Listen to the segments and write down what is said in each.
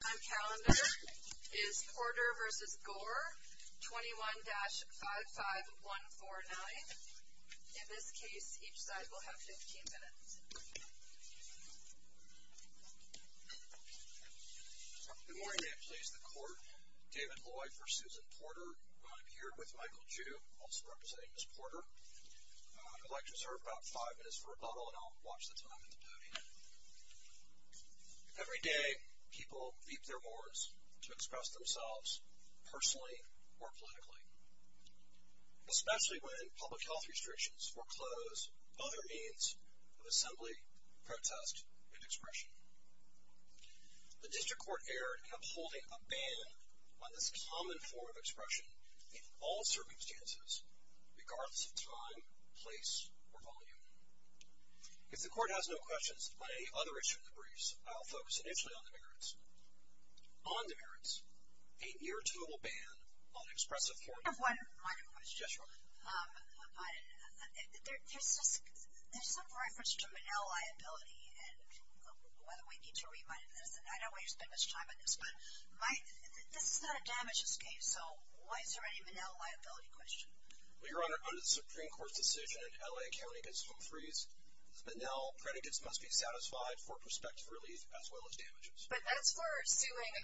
On calendar is Porter v. Gore, 21-55149. In this case, each side will have 15 minutes. Good morning, actually, it's the Court. David Loy for Susan Porter. I'm here with Michael Ju, also representing Ms. Porter. I'd like to serve about five minutes of rebuttal, and I'll watch the time at the podium. Every day, people leap their boards to express themselves personally or politically, especially when public health restrictions foreclose other means of assembly, protest, and expression. The District Court erred, upholding a ban on the most common form of expression in all circumstances, regardless of time, place, or volume. If the Court has no questions, by any other agenda briefs, I'll focus initially on the merits. On the merits, a near-total ban on expressive form. I have one final question. Yes, Your Honor. There's some reference to manila liability, and we need to revise that. I don't want to spend much time on this, but this is not a damages case, so is there any manila liability question? Well, Your Honor, under the Supreme Court decision, if a man in L.A. carrying a swine freeze, manila creditors must be satisfied for prospective relief, as well as damages. But that's for doing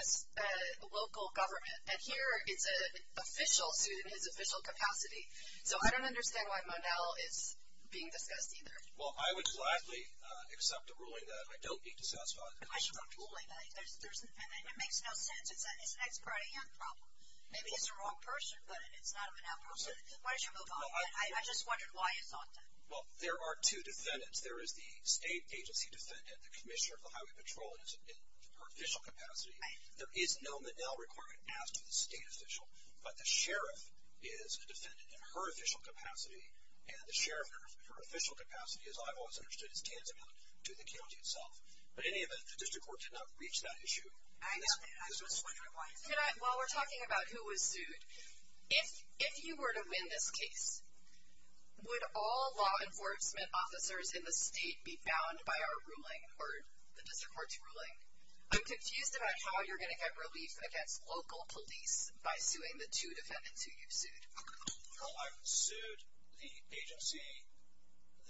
local government, and here is an official suit in his official capacity, so I don't understand why manila is being discussed either. Well, I would gladly accept a ruling that I don't need to satisfy. I should not be ruling that. It makes no sense. It's an expediting health problem. Maybe it's the wrong person, but it's not a manila problem. Why don't you move on? I just wondered why you thought that. Well, there are two defendants. There is the state agency defendant, the commissioner of the highway patrol, in her official capacity. There is no manila requirement as to the state official, but the sheriff is a defendant in her official capacity, and the sheriff in her official capacity, as I've always understood, is candidate to the county itself. But in any event, the district court did not reach that issue. I know. I'm just wondering why. While we're talking about who was who, if you were to win this case, would all law enforcement officers in the state be bound by our ruling or the district court's ruling? I'm confused about how you're going to get relief against local police by suing the two defendants who you sued. Well, I've sued the agency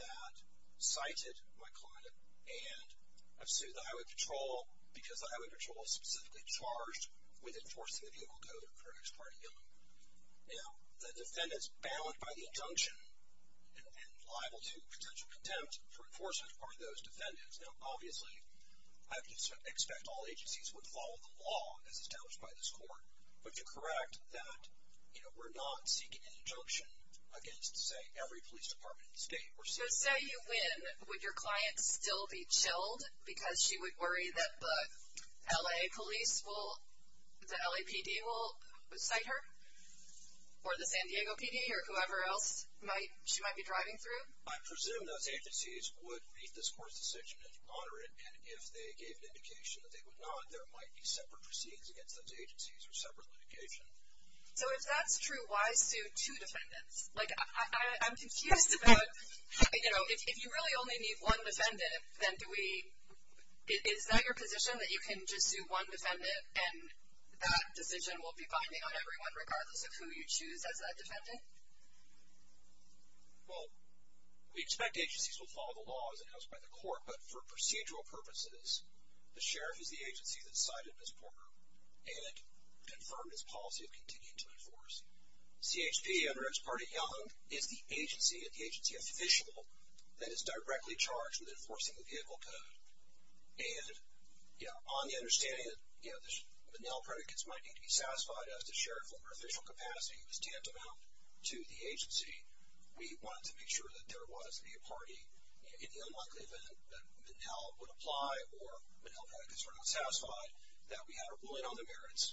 that cited my client, and I've sued the highway patrol because the highway patrol was specifically charged with enforcing the vehicle code for an expired vehicle. Now, the defendants bound by the injunction and liable to potential contempt for enforcement are those defendants. Now, obviously, I expect all agencies would follow the law as established by this court, but to correct that, you know, we're not seeking injunction against, say, every police department in the state. So say you win, would your client still be chilled because she would worry that the L.A. police will, the LAPD will cite her or the San Diego PD or whoever else she might be driving through? I presume those agencies would meet this court's decision as moderate, and if they gave the indication that they would not, there might be separate proceeds against those agencies for separate litigation. So if that's true, why sue two defendants? Like, I'm confused about, you know, if you really only need one defendant, then do we – is that your position, that you can just do one defendant and that decision will be binding on everyone, regardless of who you choose as a defendant? Well, we expect agencies will follow the law as established by the court, but for procedural purposes, the sheriff is the agency that cited Ms. Porter and confirmed his policy of continuing to enforce. CHP, under Ms. Pardee Young, is the agency and the agency official that is directly charged with enforcing the vehicle code. And, you know, on the understanding that, you know, the Monell predicates might need to be satisfied as a sheriff over official capacity, Ms. Tietema to the agency, we wanted to be sure that there was a party. It is unlikely that Monell would apply or Monell predicates were not satisfied, that we had a ruling on the merits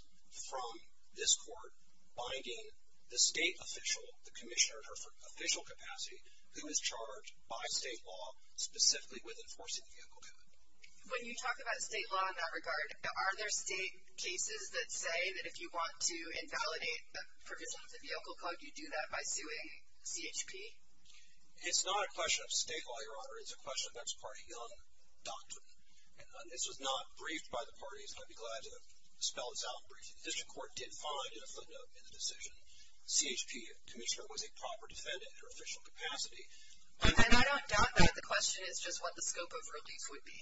from this court binding the state official, the commissioner in her official capacity, who is charged by state law specifically with enforcing the vehicle code. When you talk about state law in that regard, are there state cases that say that if you want to invalidate the provisions of the vehicle code, you do that by suing CHP? It's not a question of state law, Your Honor. It's a question of Ms. Pardee Young's doctrine. This was not briefed by the parties. I'd be glad to spell this out for you. The district court did find in a footnote in the decision, CHP commissioner was a proper defendant in her official capacity. And I don't doubt that as a question, it's just what the scope of release would be.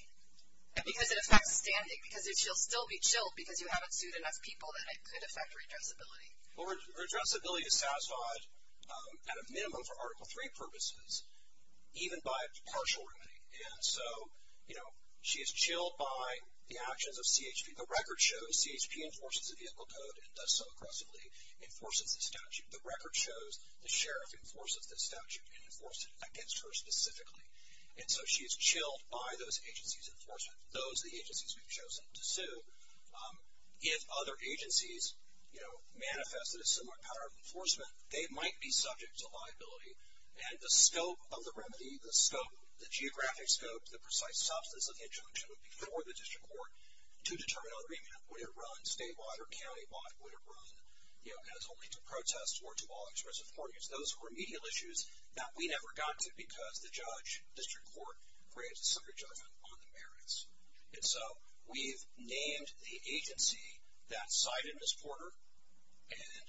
Because it affects standing, because she'll still be chilled because you haven't sued enough people, and it could affect her stress ability. Her stress ability is satisfied at a minimum for Article III purposes, even by partial remuneration. So, you know, she is chilled by the actions of CHP. The record shows CHP enforces the vehicle code and thus so aggressively enforces the statute. The record shows the sheriff enforces the statute and enforces it against her specifically. And so she is chilled by those agencies' enforcement, those the agencies have chosen to sue. If other agencies, you know, manifest a similar kind of enforcement, they might be subject to liability. And the scope of the remedy, the geographic scope, the precise substance of the injunction before the district court to determine on the remedy, would it run statewide or countywide, would it run, you know, as only to protest or to all expressive court use. Those are remedial issues that we never got to because the judge, district court, raised a separate judgment on the merits. And so we've named the agency that cited Ms. Porter and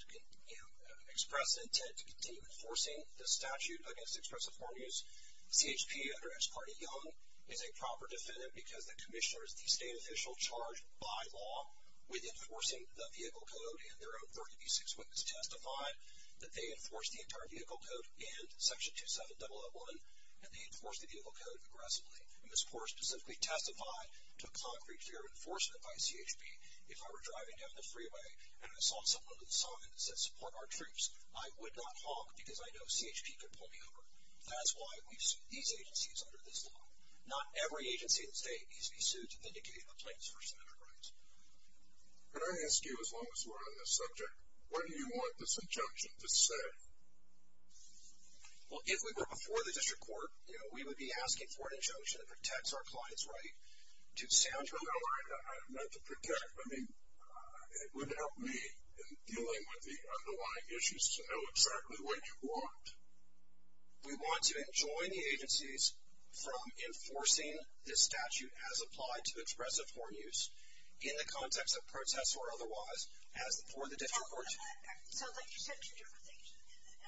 expressed the intent to continue enforcing the statute against expressive court use. CHP, under Ex parte Young, is a proper defendant because the commissioner is the state official charged by law with enforcing the vehicle code in their own court case. So it was testified that they enforced the entire vehicle code in Section 27.111, and they enforced the vehicle code aggressively. Ms. Porter specifically testified to a concrete fear of enforcement by CHP if I were driving down the freeway and I saw someone with signs that said, support our troops, I would not talk because I know CHP could pull me over. That's why we sued these agencies under this law. Not every agency in the state needs to be sued to indicate a transgression of their rights. Can I ask you, as long as we're on this subject, what do you want this injunction to say? Well, if we were before the district court, you know, we would be asking for an injunction that protects our client's rights to safeguard the vehicle code. No, not to protect. I mean, it would help me in dealing with the underlying issues to know exactly what you want. We want to enjoin the agencies from enforcing this statute as applied to expressive foreign use in the context of protest or otherwise for the district court. So, but you said two different things.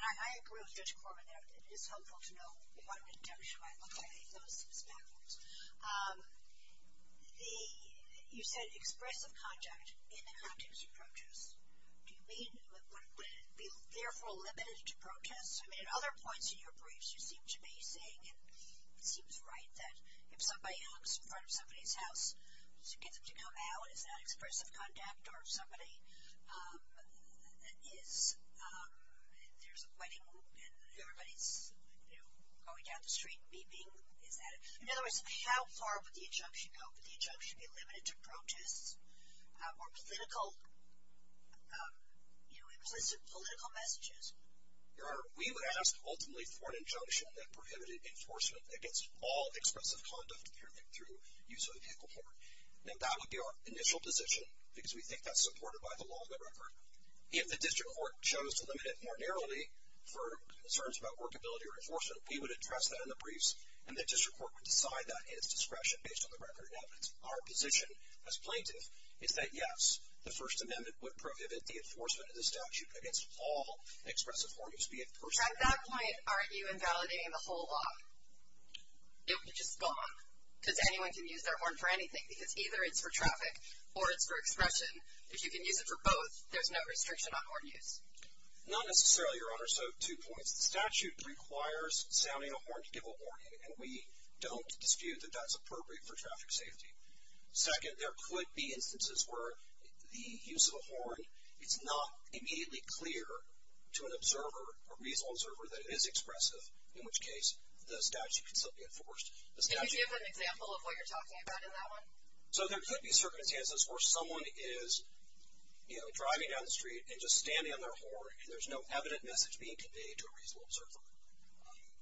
I agree with the district court on that. It's helpful to know if I'm going to testify because I know that this is backwards. You said expressive contact in the context of protest. Do you mean, would it be, therefore, limited to protest? I mean, at other points in your briefs you seem to be saying it seems right that if somebody asks in front of somebody's house to come out and ask for some contact or if somebody is, there's a question, is everybody, you know, going down the street weeping? In other words, how far would the injunction go if the injunction is limited to protest or political messages? Your Honor, we would ask ultimately for an injunction that prohibited enforcement against all expressive conduct through use of a vehicle form. I think that would be our initial position because we think that's supported by the laws of the record. If the district court chose to limit it more narrowly for concerns about workability or enforcement, we would address that in the briefs and the district court would decide that in its discretion based on the record of evidence. Our position as plaintiffs is that, yes, the First Amendment would prohibit the enforcement of this statute against all expressive horn use vehicles. At that point, are you invalidating the whole law? If it's gone, does anyone can use their horn for anything? Because either it's for traffic or it's for expression. If you can use it for both, there's no restriction on horn use. Not necessarily, Your Honor, so two points. The statute requires sounding a horn to give a warning, and we don't dispute that that's appropriate for traffic safety. Second, there could be instances where the use of a horn is not immediately clear to an observer or reasonable observer that it is expressive, in which case the statute can still be enforced. Can you give an example of what you're talking about in that one? There could be certain instances where someone is driving down the street and just standing on their horn, and there's no evident message being conveyed to a reasonable observer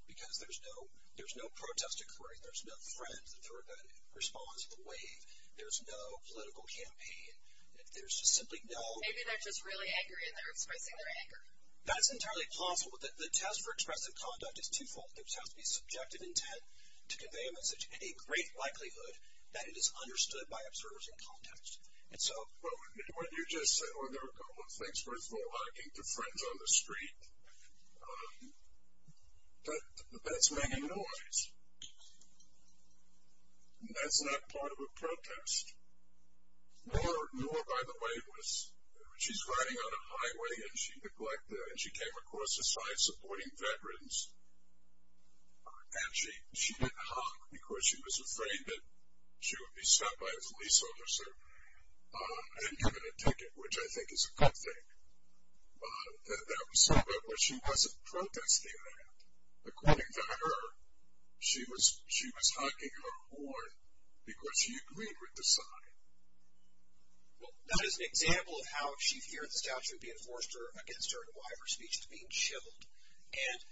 because there's no protest to correct. There's no threat that responds the way. There's no political campaign. There's simply no – Maybe they're just really angry and they're expressing their anger. That's entirely plausible. The test for expressive conduct is twofold. There has to be subjective intent to convey a message, but a great likelihood that it is understood by observers in context. Well, what you're just saying, there are a couple of things, first of all. You're talking to friends on the street, but that's making noise. That's not part of a protest. Noor, by the way, was – she's driving on a highway and she neglected and she came across a sign supporting veterans, and she didn't hop because she was afraid that she would be stopped by a police officer and given a ticket, which I think is a good thing. That was so good, but she wasn't protesting that. According to her, she was honking her horn because she agreed with the sign. Well, that is an example of how she's hearing this, how she would be an enforcer against her and why her speech is being shiveled. And –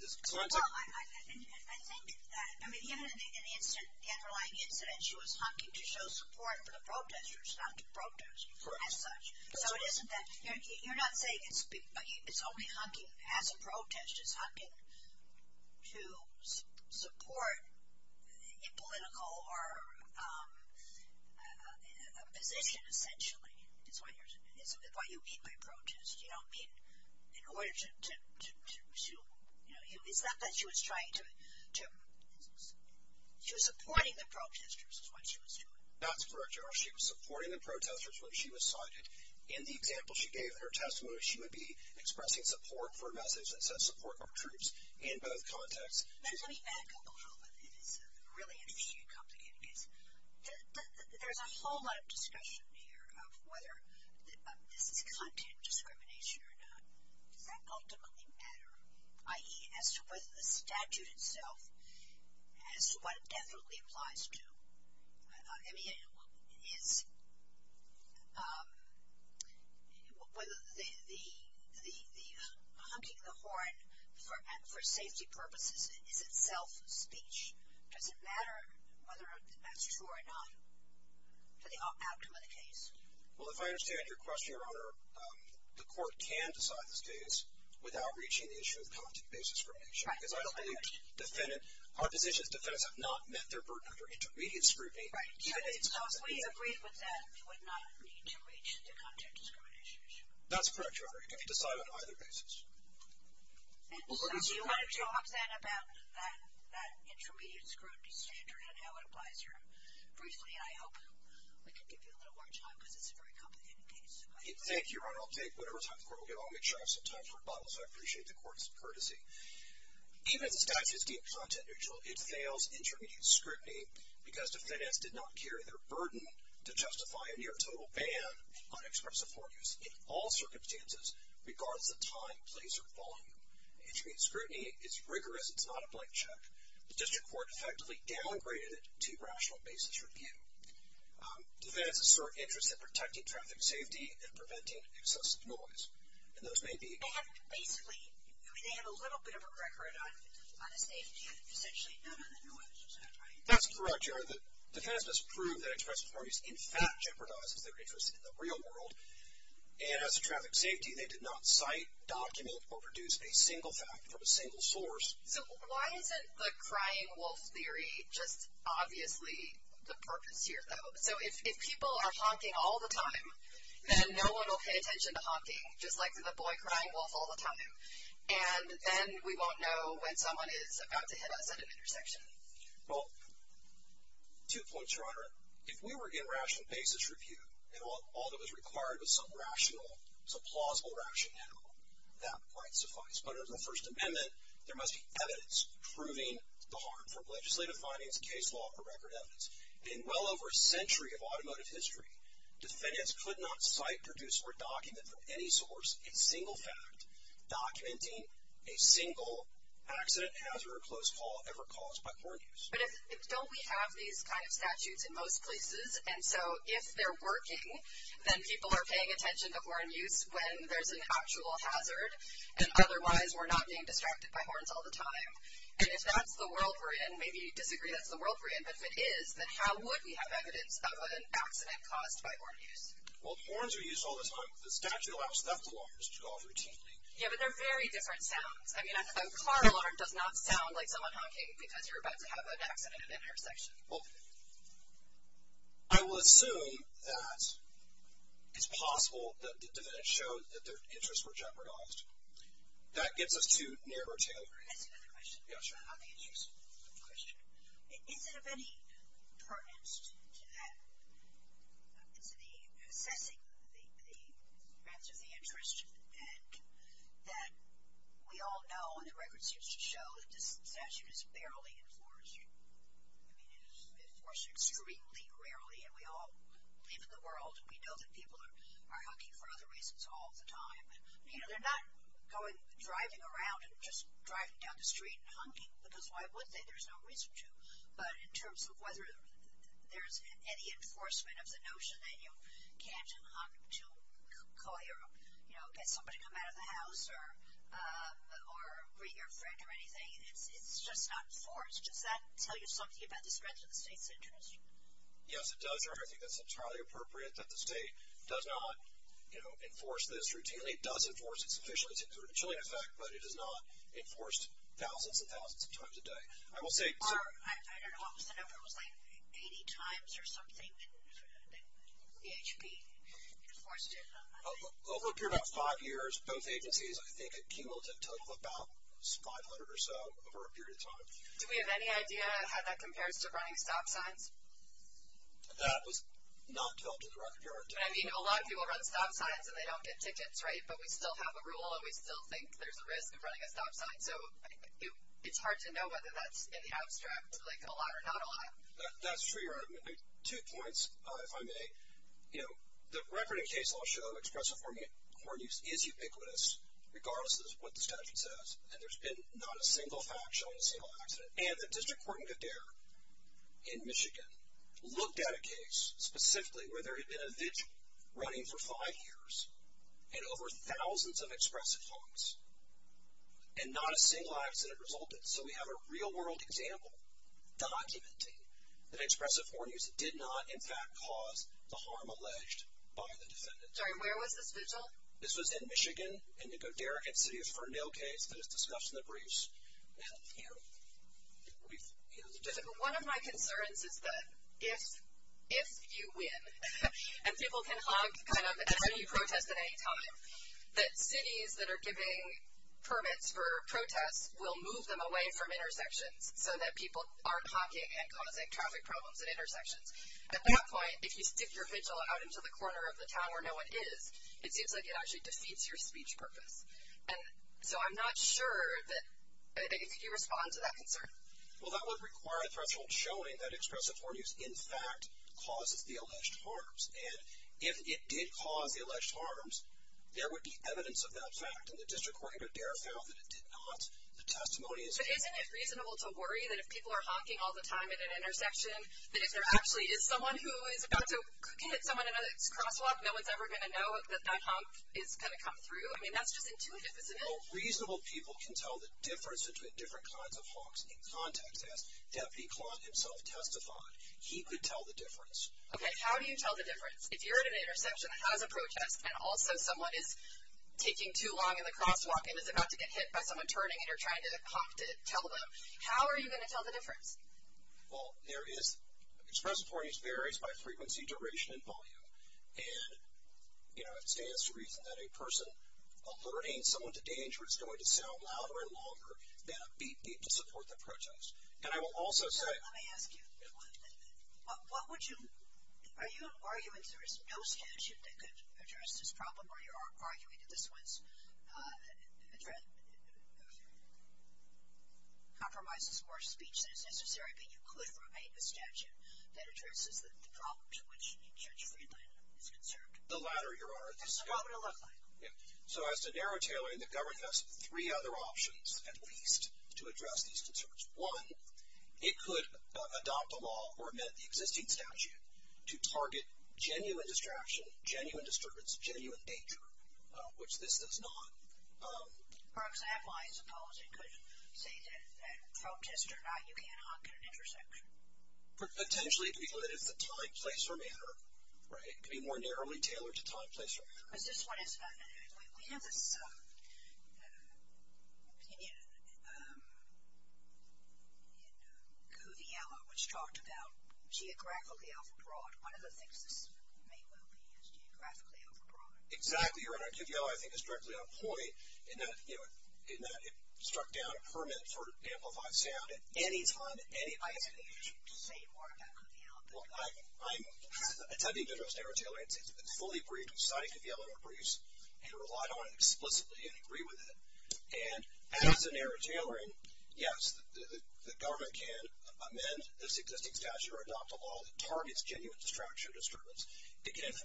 Well, I think that – I mean, given an incident, the underlying incident, she was honking to show support for the protesters, not to protest as such. So it isn't that – you're not saying it's only honking as a protest. It's honking to support a political or a position, essentially, is what you mean by protest. In order to – it's not that she was trying to – she was supporting the protesters is what she was doing. That's correct, Josh. She was supporting the protesters when she was cited. In the example she gave in her testimony, she would be expressing support for methods that said support for troops in both contexts. Let me add a couple of really interesting and complicated things. There's a whole lot of discussion here of whether it's content discrimination or not. Is that ultimately a matter? I.e., as to whether the statute itself has – what it definitely applies to. I mean, in – whether the honking the horn for safety purposes is itself a speech. Does it matter whether or not that's true or not for the ultimate case? Well, if I understand your question, Your Honor, the court can decide in this case without reaching the issue of content discrimination. Right. Because I don't think defendants – our position is defendants have not met their burden under intermediate scrutiny. Right. So if we agreed with that, we would not need to reach the content discrimination issue. That's correct, Your Honor. It can be decided on either basis. Do you want to talk then about that intermediate scrutiny standard and how it applies here briefly? I hope I can give you a little more time because it's a very complicated case. Thank you, Your Honor. I'll take whatever time is available. I'll make sure I have some time for rebuttals. I appreciate the court's courtesy. Even if that is the content issue, it fails intermediate scrutiny because the defendant did not carry their burden to justify a near total ban on express authorities in all circumstances, regardless of the time, place, or volume. Intermediate scrutiny is rigorous. It's not a blank check. The district court effectively downgraded it to rational basis review. Defendants are interested in protecting traffic safety and preventing excessive noise, and those may be – That's basically – you may have a little bit of a record on it, but you don't want to take it yet, potentially. That's correct, Your Honor. The defense has proved that express authorities in fact jeopardize their interest in the real world, and as to traffic safety, they did not cite, document, or produce a single fact from a single source. Why isn't the crying wolf theory just obviously the purpose here, though? If people are honking all the time, then no one will pay attention to honking, just like the boy crying wolf all the time, and then we won't know when someone is about to hit us at an intersection. Well, two points, Your Honor. If we were to get rational basis review, and all that was required was some rational, some plausible rationale, that might suffice. But as a First Amendment, there must be evidence proving the harm. From legislative findings to case law for record evidence, in well over a century of automotive history, defendants could not cite, produce, or document from any source a single fact, documenting a single accident, hazard, or close call ever caused by horn use. But still we have these kind of statutes in most places, and so if they're working, then people are paying attention to horn use when there's an actual hazard, and otherwise we're not being distracted by horns all the time. And if that's the world we're in, maybe you disagree that's the world we're in, but if it is, then how would we have evidence of an accident caused by horn use? Well, horns are used all the time. The statute allows them to be used all the time. Yeah, but they're very different sounds. I mean, a car alarm does not sound like someone honking because you're about to have an accident at an intersection. Well, I will assume that it's possible that defendants showed that their interests were jeopardized. That gets us to neighborhood tailoring. I just have a question. Yes, Your Honor. I think the answer to your question is that we all know, and the records just show that this statute is barely enforced. I mean, it is enforced extremely rarely, and we all live in the world, and we know that people are honking for other reasons all the time. You know, they're not going driving around and just driving down the street and honking, because why would they? There's no reason to. But in terms of whether there's any enforcement of the notion that you can't honk to call your, you know, get somebody to come out of the house or greet your friend or anything, it's just not enforced. Does that tell you something about the threats of the state's interest? Yes, it does, Your Honor. I think that's entirely appropriate that the state does not, you know, enforce this routinely. It does enforce it sufficiently. It's originally effective, but it is not enforced thousands and thousands of times a day. I don't know how much the number was, like 80 times or something. BHP enforced it. Over a period of about five years, both agencies, I think, accumulated a total of about 500 or so over a period of time. Do we have any idea how that compares to running a stop sign? That was not developed as a record, Your Honor. I mean, a lot of people run stop signs, and they don't get tickets, right? But we still have a rule, and we still think there's a risk of running a stop sign. So it's hard to know whether that's an abstract, like a lot or not a lot. That's true, Your Honor. Two points, if I may. You know, the record and case law show expressive ordinance is ubiquitous, regardless of what the statute says. And there's been not a single factional, single accident. And the District Court in Madera, in Michigan, looked at a case specifically where there had been a vigil running for five years and over thousands of expressive ordinance. And not a single accident resulted. So we have a real-world example documenting that expressive ordinance did not, in fact, cause the harm alleged by the defendant. Sorry, where was this vigil? This was in Michigan, in Nicoderican City, for a nail case that is discussed in the briefs. One of my concerns is that if you win, and people can hug kind of at any protest at any time, that cities that are giving permits for protests will move them away from intersections so that people aren't hopping and causing traffic problems at intersections. At that point, if you stick your vigil out into the corner of the town where no one is, it actually defeats your speech purpose. And so I'm not sure that any response to that concern. Well, that would require a factual showing that expressive ordinance, in fact, caused the alleged harms. And if it did cause the alleged harms, there would be evidence of that fact, and the district court would be able to tell that it did not. The testimony is there. Isn't it reasonable to worry that if people are hopping all the time at an intersection, that if there actually is someone who is about to hit someone in a crosswalk, no one is ever going to know that that hop is going to come through? I mean, that's just intuitive, isn't it? Well, reasonable people can tell the difference between different kinds of hops in contact. If you're at an intersection, how does a protest, and also someone is taking too long in the crosswalk and is about to get hit by someone turning and you're trying to hop to tell them, how are you going to tell the difference? Well, there is expressive ordinance varies by frequency, duration, and volume. And, you know, it stands to reason that a person alerting someone to danger is going to sound louder and longer than feet need to support the protest. And I will also say – Let me ask you one thing. Are you arguing that there is no statute that could address this problem, or you're arguing that this was addressed, compromises more speech than is necessary, but you could write a statute that addresses the problem to which the Church of Greenland is concerned? The latter, Your Honor. So how would it look like? So as to narrow tailoring, the government has three other options and ways to address these concerns. One, it could adopt a law or amend the existing statute to target genuine distraction, genuine disturbance, genuine danger, which this does not. Perhaps that line is a policy. Could you say that protests are not giving an option to intersect? Potentially, because it is the time, place, or manner, right? It could be more narrowly tailored to time, place, or manner. We have an opinion in who the element was talked about geographically and abroad. One of the things that is made known to me is geographically and abroad. Exactly, Your Honor. I think it's directly on point in that it struck down Hermit, for example, by sound at any time. I think you should say more about who the element is. I need to narrow tailoring. It's been fully briefed and signed to the element briefs, and relied on explicitly and agree with it. And as to narrow tailoring, yes, the government can amend the existing statute or adopt a law that targets genuine distraction or disturbance.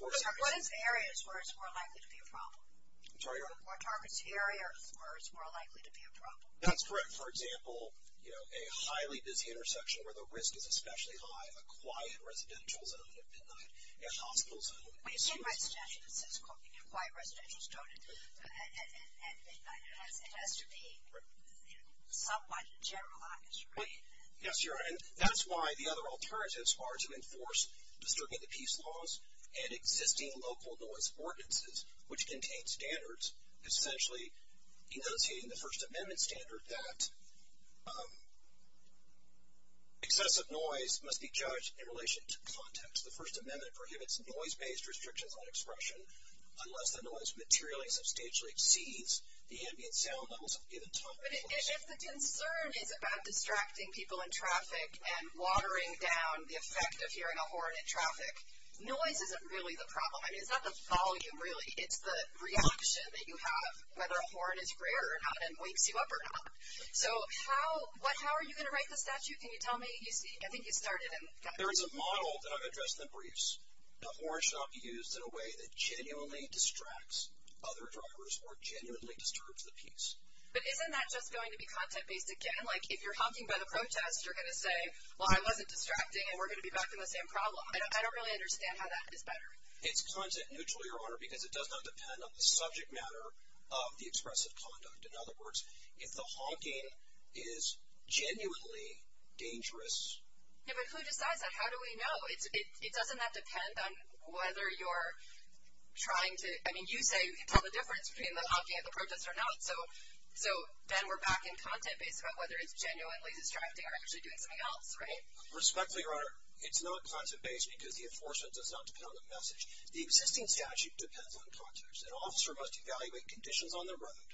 What are areas where it's more likely to be a problem? I'm sorry? What are areas where it's more likely to be a problem? That's correct. For example, a highly-dense intersection where the risk is especially high, a quiet residential that doesn't get denied. Yes, hospitals. Wait, in residential, that's correct. Why residential? It has to be publicized and generalized, right? Yes, Your Honor. That's why the other alternative as far as enforcing the peace laws and existing local noise ordinances, which contain standards, essentially denotating the First Amendment standard that excessive noise must be judged in relation to the context. The First Amendment prohibits noise-based restrictions on expression unless the noise materially substantially exceeds the ambient sound levels of given topics. If the concern is about distracting people in traffic and watering down the effect of hearing a horn in traffic, noise isn't really the problem. I mean, it's not the volume, really. It's the reaction that you have, whether a horn is rare and wakes you up or not. So how are you going to write the statute? Can you tell me? I think you started it. There is a model that I've addressed in the briefs. A horn should not be used in a way that genuinely distracts other drivers or genuinely disturbs the peace. But isn't that just going to be content-based again? Like if you're honking by the protest, you're going to say, well, I wasn't distracting, and we're going to be back in the same problem. I don't really understand how that gets better. It's content-neutral, Your Honor, because it does not depend on the subject matter of the expressive conduct. In other words, if the honking is genuinely dangerous. Yeah, but who decides that? How do we know? It doesn't have to depend on whether you're trying to – I mean, you say you can tell the difference between the honking and the protest or not, so then we're back in content-based about whether it's genuinely distracting or actually doing something else, right? Respectfully, Your Honor, it's not content-based because the enforcement does not depend on the message. The existing statute depends on the process. An officer must evaluate conditions on the road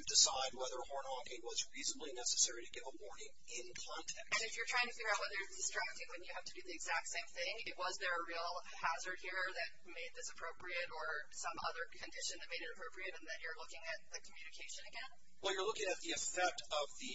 to decide whether a horn honking was reasonably necessary to give a warning in front of them. And if you're trying to figure out whether it's distracting when you have to do the exact same thing, was there a real hazard here that made this appropriate or some other condition that made it appropriate in that you're looking at the communication again? Well, you're looking at the effect of the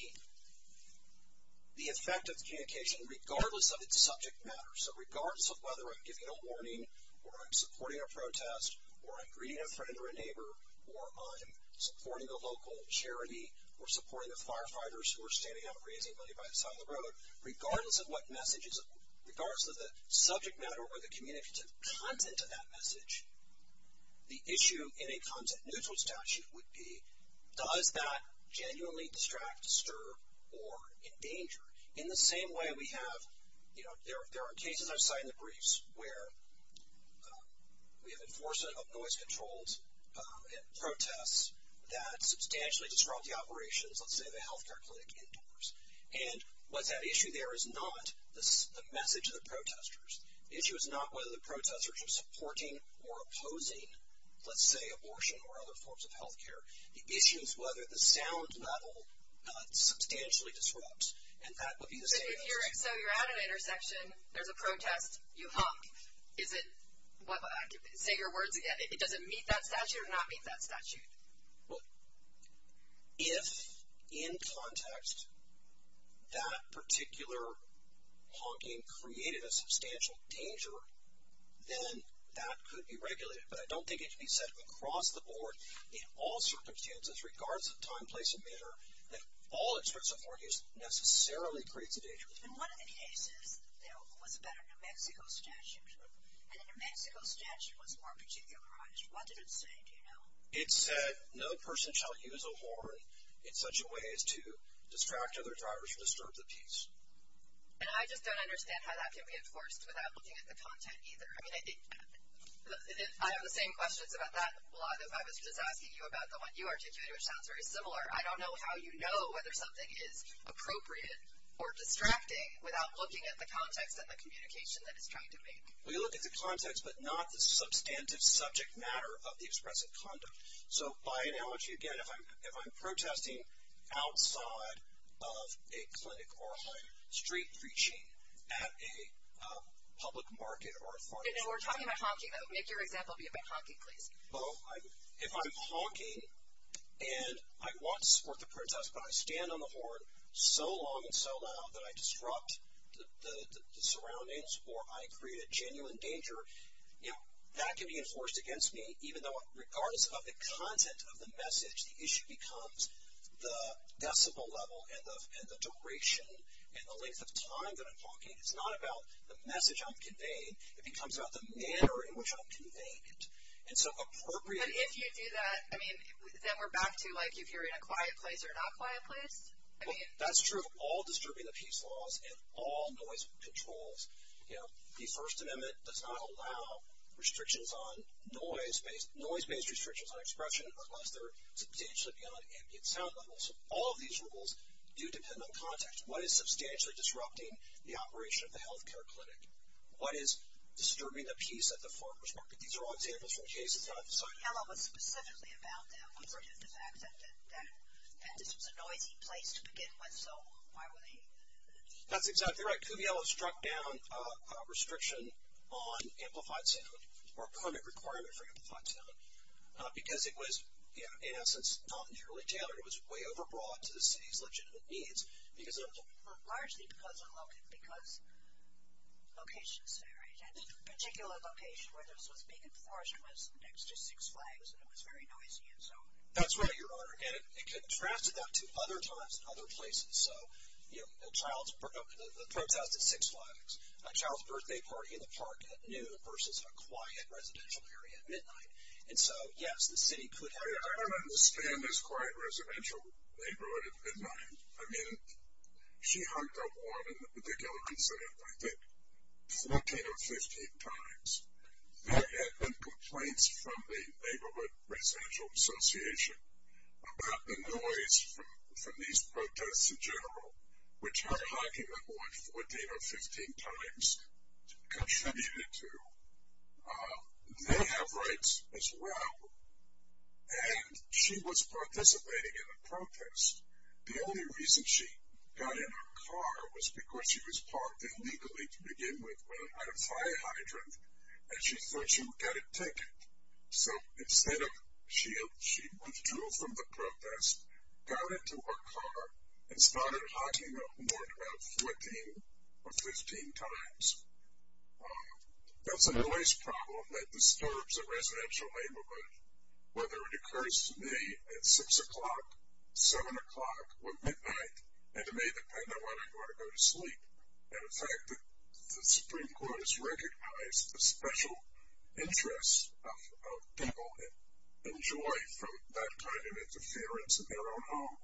communication, regardless of its subject matter. So regardless of whether I'm giving a warning or I'm supporting a protest or I'm greeting a friend or a neighbor or I'm supporting a local charity or supporting the firefighters who are standing out raising money by the side of the road, regardless of what message is – regardless of the subject matter or the communicative content of that message, the issue in a content-neutral statute would be, does that genuinely distract, disturb, or endanger? In the same way we have – there are cases I've cited in the briefs where we have enforcement of noise controls at protests that substantially disrupt the operations, let's say, of a health care clinic indoors. And what that issue there is not the message to the protesters. The issue is not whether the protesters are supporting or opposing, let's say, abortion or other forms of health care. The issue is whether the sound level substantially disrupts. And that would be the case. So you're at an intersection. There's a protest. You honk. Is it – say your words again. Does it meet that statute or not meet that statute? Look, if, in context, that particular honking created a substantial danger, then that could be regulated. But I don't think it should be said across the board, in all circumstances, regardless of time, place, and measure, that all its support is necessarily creating danger. In one of the cases, there was a Better New Mexico statute. And the New Mexico statute was more peculiarized. What did it say? It said no person shall use a horn in such a way as to distract other drivers from the scope of peace. And I just don't understand how that can be enforced without looking at the content either. I mean, I have the same questions about that. A lot of what I was just asking you about, the one you articulated, sounds very similar. I don't know how you know whether something is appropriate or distracting without looking at the context and the communication that it's trying to make. We look at the context, but not the substantive subject matter of the expressive conduct. So, again, if I'm protesting outside of a clinic or on a street preaching at a public market or a forum. And we're talking about honking, though. Make your example be about honking, please. If I'm honking and I want to support the protest, but I stand on the horn so long and so loud that I disrupt the surroundings or I create a genuine danger, that can be enforced against me, even though regardless of the content of the message, the issue becomes the decibel level and the duration and the length of time that I'm talking. It's not about the message I'm conveying. It becomes about the manner in which I'm conveying it. But if you do that, then we're back to, like, can you hear me in a quiet place or not quiet place? That's true of all disturbing the peace laws and all noise controls. The First Amendment does not allow restrictions on noise, noise-based restrictions on expression unless they're substantially beyond the ambient sound level. So all of these rules do depend on context. What is substantially disrupting the operation of the health care clinic? What is disturbing the peace at the forum perspective? These are all examples from case in front. So tell us specifically about that. When we're in a disaster, and it's just a noisy place to begin with, so why would they do that? That's exactly right. Cuviello struck down a restriction on amplified sound or permit requirements for amplified sound because it was, in essence, not nearly tailored. It was way overbroad to the city's legitimate needs because it was largely because locations there, at a particular location where there's a big forest that's just thick slags and it was very noisy. That's right. It contrasted that to other times and other places. So a child's birthday party in a park at noon versus a quiet residential area at midnight. And so, yes, the city could have… I don't understand this quiet residential neighborhood at midnight. I mean, she hung out more than a particular incident. I think 14 or 15 times. That had them complaints from the Neighborhood Residential Association about the noise from these protests in general, which her hogging them more than 14 or 15 times contributed to mayhem rights as well. And she was participating in a protest. The only reason she got in her car was because she was parked illegally to begin with when it had a fire hydrant and she thought she would get a tick. So instead of she'd want fuel from the protest, got into her car and started hogging them more than 14 or 15 times. That's a noise problem that disturbs a residential neighborhood, whether it occurs to me at 6 o'clock, 7 o'clock, or midnight. And it may depend on whether you want to go to sleep. In fact, the Supreme Court has recognized the special interest of people and joy from that kind of interference in their own home.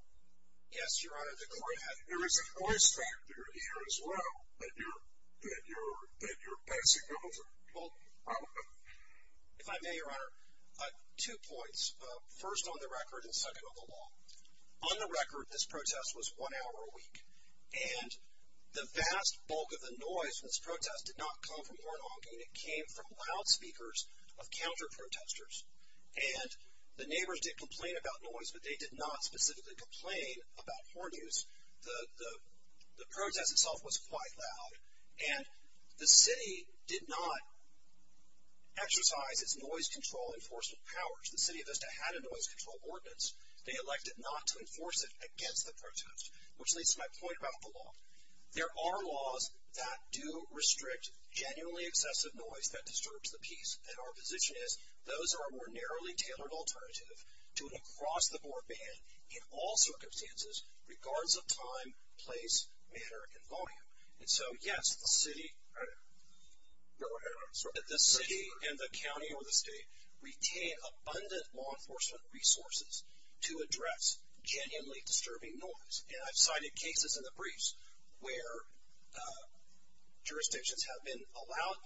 Yes, Your Honor, go ahead. There is a noise factor here as well that you're passing over. Well, if I may, Your Honor, two points. First, on the record, and second, on the law. On the record, this protest was one hour a week. And the vast bulk of the noise from this protest did not come from horn hogging. It came from loudspeakers of counterprotesters. And the neighbors did complain about noise, but they did not specifically complain about horn use. The protest itself was quite loud. And the city did not exercise its noise control enforcement powers. The City of Vista had a noise control ordinance. They elected not to enforce it against the protest, which leads to my point about the law. There are laws that do restrict genuinely excessive noise that disturbs the peace. And our position is those are a more narrowly tailored alternative to an across-the-board ban in all circumstances, regardless of time, place, and volume. And so, yes, the city and the county or the state retain abundant law enforcement resources to address genuinely disturbing noise. And I've cited cases in the briefs where jurisdictions have been allowed,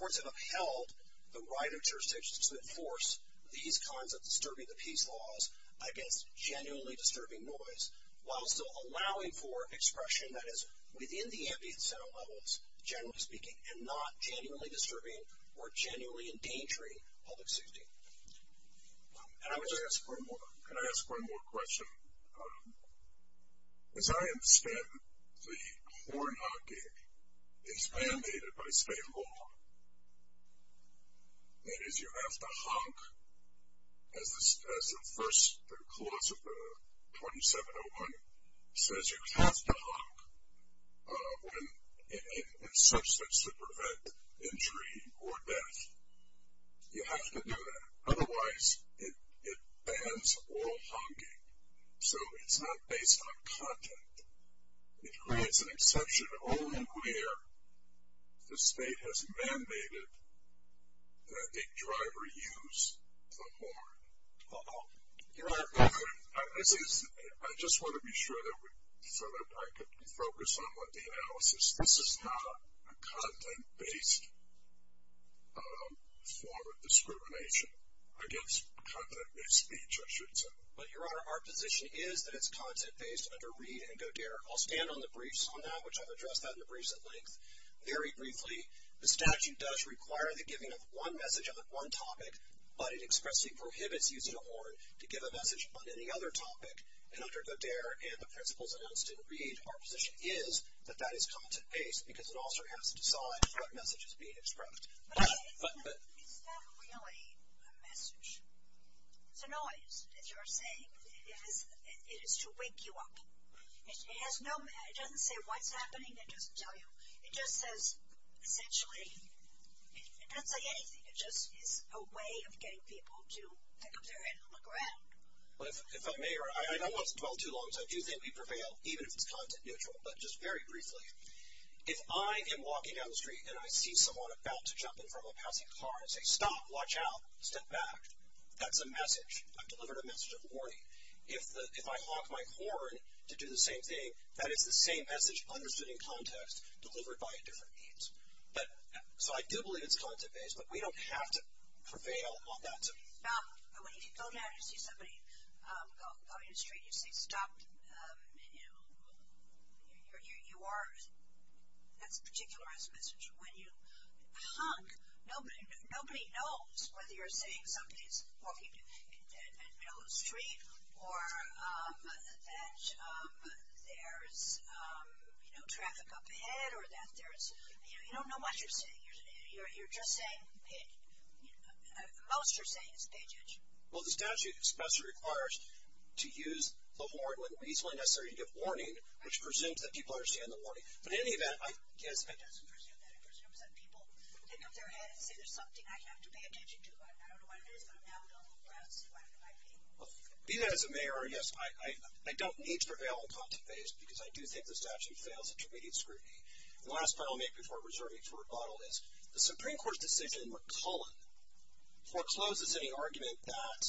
courts have upheld the right of jurisdictions to enforce these kinds of disturbing the peace laws against genuinely disturbing noise, while also allowing for expression, that is, within the ambient set of levels, generally speaking, and not genuinely disturbing or genuinely endangering public safety. And I'm going to ask one more. Can I ask one more question? As I understand it, the horn honking is mandated by state law. That is, you have to honk, as the first clause of the 2701 says, you have to honk when there's substance to prevent injury or death. You have to do that. Otherwise, it bans oral honking. So it's not based on content. It creates an exception only where the state has mandated that a driver use the horn. Your Honor, I just want to be sure so that I can focus on what the analysis is. This is not a content-based form of discrimination against content-based speech, I should say. But, Your Honor, our position is that it's content-based under Reed and Godear. I'll stand on the briefs on that, which I've addressed that in the briefs at length. Very briefly, the statute does require the giving of one message on the one topic, but it expressly prohibits using a horn to give a message on any other topic. And under Godear and the principles announced in Reed, our position is that that is content-based because it also has to decide what message is being expressed. But is that really a message? It's a noise. It's your state. It is to wake you up. It doesn't say what's happening. It doesn't tell you. It just says, actually. It doesn't say anything. It's just a way of getting people to look around. If I may, Your Honor, I don't want to dwell too long, so I do think we prevail, even if it's content neutral. But just very briefly, if I am walking down the street and I see someone about to jump in front of a passing car and say, stop, watch out, step back, that's a message. I've delivered a message of warning. If I honk my horn to do the same thing, that is the same message understood in context, delivered by different means. So I do believe it's content-based, but we don't have to prevail on that. Stop. When you go down to see somebody walking down the street and you say, stop, you are, that's a particularized message. When you honk, nobody knows whether you're saying something is walking down the street or that there's traffic up ahead or that there's, you don't know what you're saying. You're just saying it. Most are saying it's content-based. Well, the statute especially requires to use the horn when it's only necessary to give warning, which presumes that people understand the warning. But in any event, I can't understand that. I can't understand that. People pick up their head and there's nothing I have to pay attention to. I don't know why I did it, but now I don't know why I did it. Well, be that as a mayor, yes, I don't need to prevail on content-based, because I do think the statute prevails on content-based scrutiny. The last file I'll make before reserving for rebuttal is, the Supreme Court decision forecloses any argument that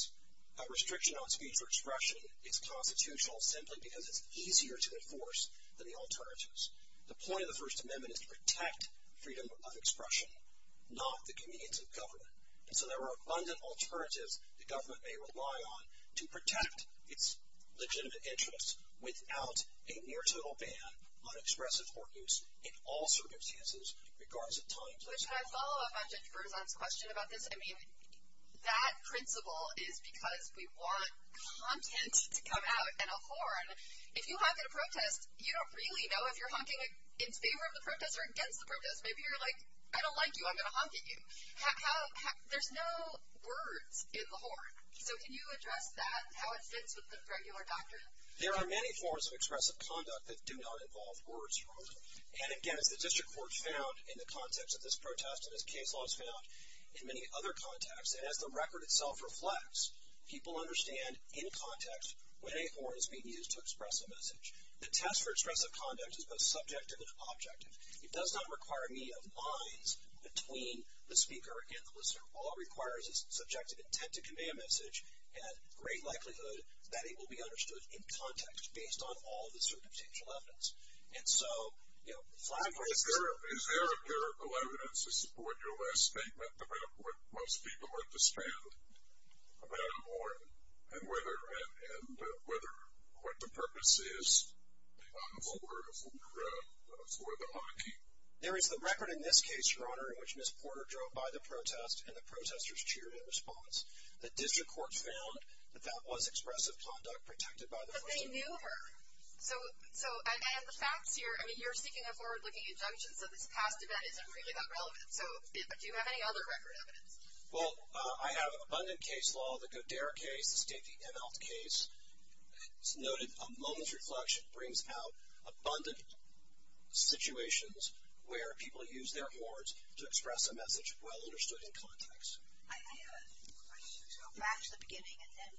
a restriction on speech or expression is constitutional simply because it's easier to enforce than the alternatives. The point of the First Amendment is to protect freedom of expression, not the convenience of government. And so there are abundant alternatives the government may rely on to protect its legitimate interests without a near-total ban on expressive or use in all circumstances, regardless of time. So should I follow up on Jennifer's last question about this? I mean, that principle is because we want content to come out in a horn. If you honk at a protest, you don't really know if you're honking in favor of the protest or against the protest. Maybe you're like, I don't like you, I'm going to honk at you. There's no word in the horn. So can you address that and how it fits with the regular doctrine? There are many forms of expressive conduct that do not involve words from a horn. And, again, the district court found in the context of this protest and this case law has found in many other contexts that as the record itself reflects, people understand in context what a horn is being used to express a message. The test for expressive conduct is both subjective and objective. It does not require any lines between the speaker and the listener. All it requires is subjective intent to convey a message, and at great likelihood, that will be understood in context based on all the circumstantial evidence. And so, you know, the flag hoisting. Is there empirical evidence to support your last statement about what most people understand about a horn and whether what the purpose is to honk a horn for the honking? There is the record in this case, Your Honor, in which Ms. Porter drove by the protest and the protesters cheered in response. The district court found that that was expressive conduct protected by the law. But they knew her. So I have the facts here. I mean, you're speaking of forward-looking injunctions. Does it have to do that? Is that really that relevant? So do you have any other records? Well, I have abundant case law. The NL case noted a moment's reflection brings out abundant situations where people use their words to express a message well understood in context. I have a question. So back to the beginning, and then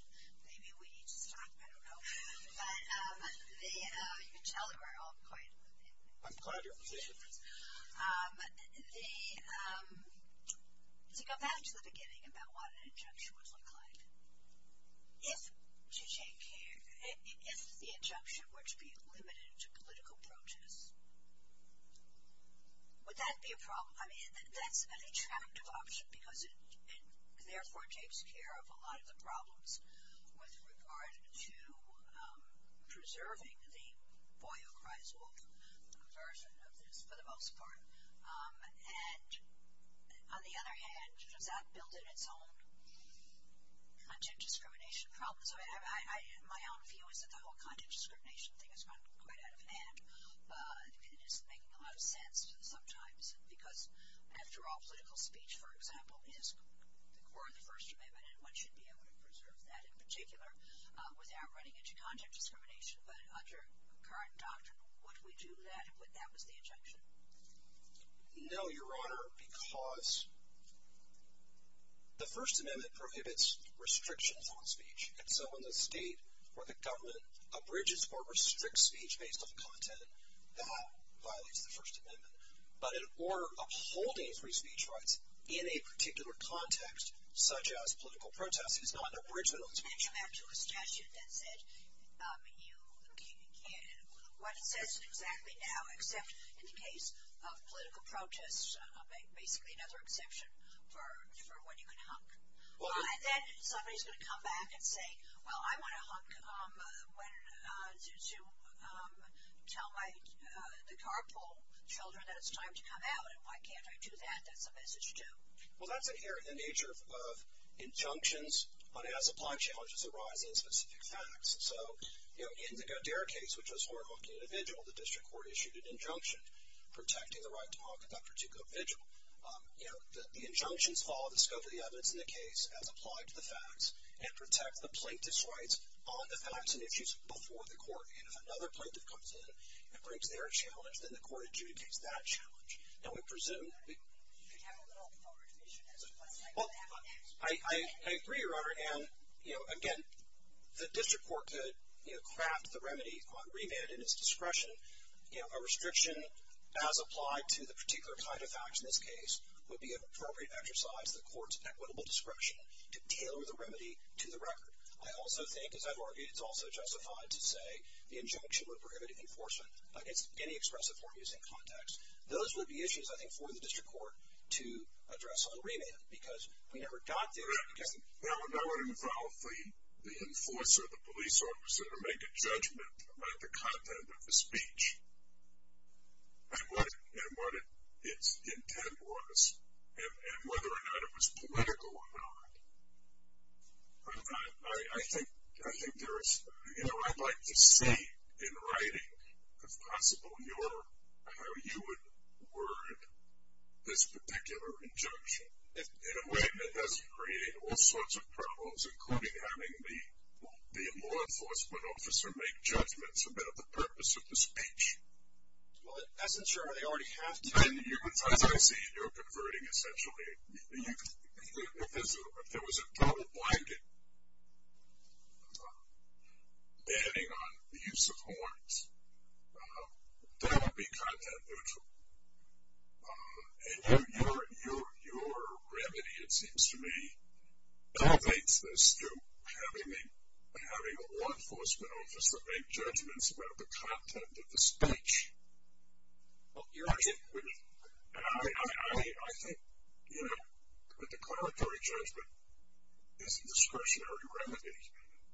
maybe we can talk, I don't know. But you can tell we're all quiet. I'm part of your community. Go back to the beginning about what an injunction would look like. If the injunction were to be limited to political protest, would that be a problem? I mean, that's an attractive option because it, therefore, takes care of a lot of the problems with regard to preserving the Boyle-Chrysler version of this. For the most part. And, on the other hand, that's built in at home. Content discrimination problems. My own view is that the whole content discrimination thing has gotten quite out of hand. It is making a lot of sense sometimes because after all, political speech, for example, is the core of the First Amendment, and one should be able to preserve that in particular without running into content discrimination. But under current doctrine, would we do that if that was the injunction? No, Your Honor, because the First Amendment prohibits restrictions on speech. So when the state or the government abridges or restricts speech based on content, that violates the First Amendment. But in order of holding free speech rights in a particular context, such as political protest, it is not an abridgment of the First Amendment. Your Honor, I think you had a suggestion that you indicated what this is exactly now, except in the case of political protest, it would be another exception for what you would hunk. And then somebody should come back and say, well, I want to hunk to tell the carpool children that it's time to come out, and why can't I do that? That's the message, too. Well, that's inherent in the nature of injunctions, but it has applied challenges to write in specific facts. So in their case, which was horrible to the individual, the district court issued an injunction protecting the right to hunk to that particular individual. The injunctions follow the scope of the evidence in the case as applied to the facts and protect the plaintiff's rights on the facts and issues before the court. If another plaintiff comes in and brings their challenge, then the court adjudicates that challenge. I agree, Your Honor, and, again, the district court could craft the remedy on remand at its discretion. A restriction as applied to the particular type of facts in this case would be an appropriate exercise of the court's equitable description to tailor the remedy to the record. I also think, as I've argued, it's also justified to say the injunction would prohibit enforcement in any expressive or abusing context. Those would be issues, I think, for the district court to address on remand, because we never got there. That would involve the enforcer, the police officer, to make a judgment about the content of the speech and what its intent was and whether or not it was political or not. I think there is, you know, I'd like to see, in writing, if possible, Your Honor, how you would word this particular injunction in a way that doesn't create all sorts of problems, including having the law enforcement officer make judgments about the purpose of the speech. Well, as I'm sure I already have done. I see you're converting, essentially. If there was a double-blinding banning on the use of horns, that would be kind of unusual. And your remedy, it seems to me, elevates this to having the law enforcement officer make judgments about the content of the speech. I think, you know, the declaratory judgment is a discretionary remedy,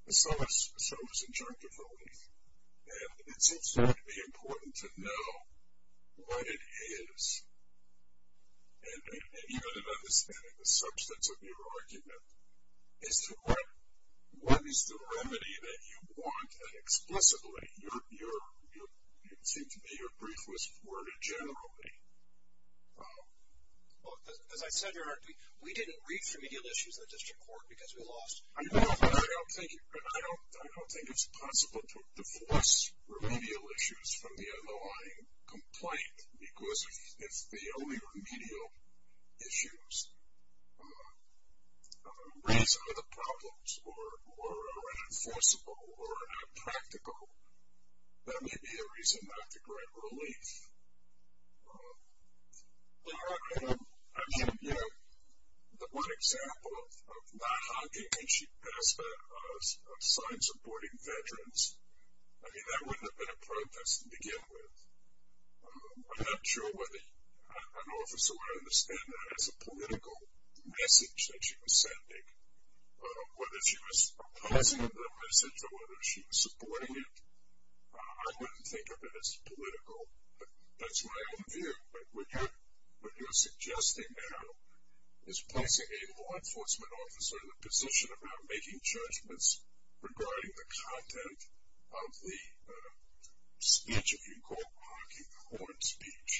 and so is injunctability. And it seems to me important to know what it is, and even an understanding of the substance of your argument, what is the remedy that you want, and explicitly, your brief was worded generally. As I said, Your Honor, we didn't read the remedial issues in the district court because we lost. I don't think it's possible to divorce remedial issues from the underlying complaint, because if the only remedial issues raise other problems or are unenforceable or unpractical, that may be a reason not to grant relief. Well, Your Honor, I mean, you know, the one example of not honking, she passed a sign supporting veterans. I mean, that wouldn't have been a protest to begin with. I'm not sure whether an officer would understand that as a political message that she was sending, whether she was opposing the message or whether she was supporting it. I wouldn't think of it as political, but that's my own view. But what you're suggesting now is placing a law enforcement officer in the position of not making judgments regarding the content of the speech, if you call it honking, the horned speech.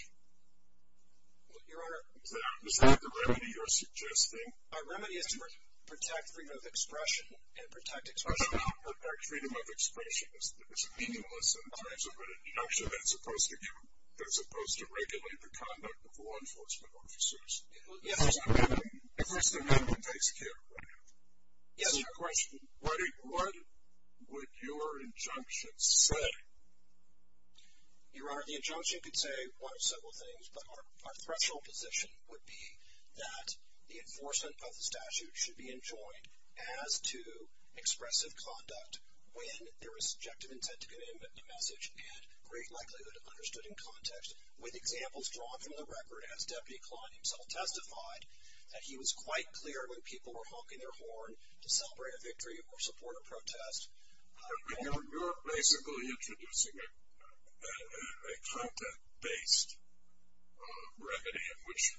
Well, Your Honor. Is that the remedy you're suggesting? Our remedy is to protect freedom of expression and protect expression. I don't know how to protect freedom of expression. I mean, it's meaningless in terms of an injunction that's supposed to regulate the conduct of law enforcement officers. It was the remedy. It was the remedy. Yes, Your Honor. What would your injunction say? Your Honor, the injunction could say quite a several things, but our threshold position would be that the enforcement by the statute should be enjoined as to expressive conduct when there is a subjective intent to commit a message, and it's very likely that it's understood in context with examples drawn from the record, as Deputy Kline himself testified, that he was quite clear when people were honking their horn to celebrate a victory or support a protest. You're basically introducing a content-based remedy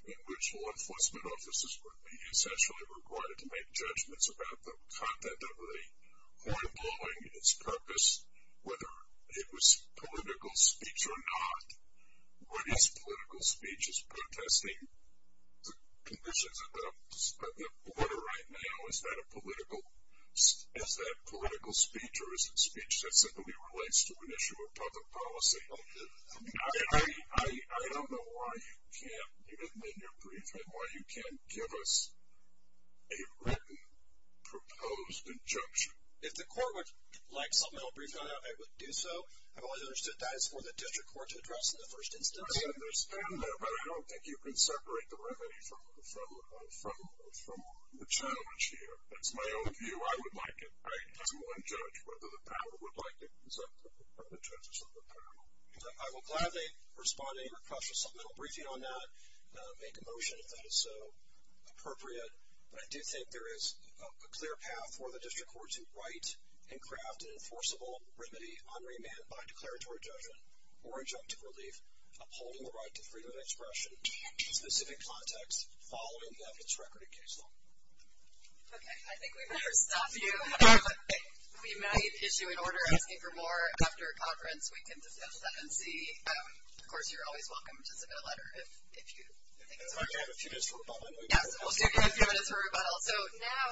in which law enforcement officers would be essentially required to make judgments about the content of the horn blowing and its purpose, whether it was political speech or not. What is political speech? Is protesting the conditions of the order right now, is that political speech, or is it speech that simply relates to an issue of public policy? I don't know why you can't give it in your brief, and why you can't give us a written proposed injunction. If the court would like something I'll brief on it, I would do so. I've always understood that as more than a judge or court should address in the first instance. I understand that, but I don't think you can separate the remedy from the challenge here. That's my own view. I would like it. All right. I'm going to judge whether the panel would like to accept the presentation of the panel. I will gladly respond to your question. I'll brief you on that, make a motion if that is so appropriate. But I do think there is a clear path for the district courts to write and craft an enforceable remedy unremitted by declaratory judgment or injunctive relief upholding the right to freedom of expression in specific context following the evidence record in case law. Okay. I think we better stop you. We might issue an order asking for more after a conference. We can discuss that and see. Of course, you're always welcome to submit a letter if you think that's appropriate. Okay. I have a few minutes for a follow-up. Yeah. We'll give you a few minutes for a follow-up. So now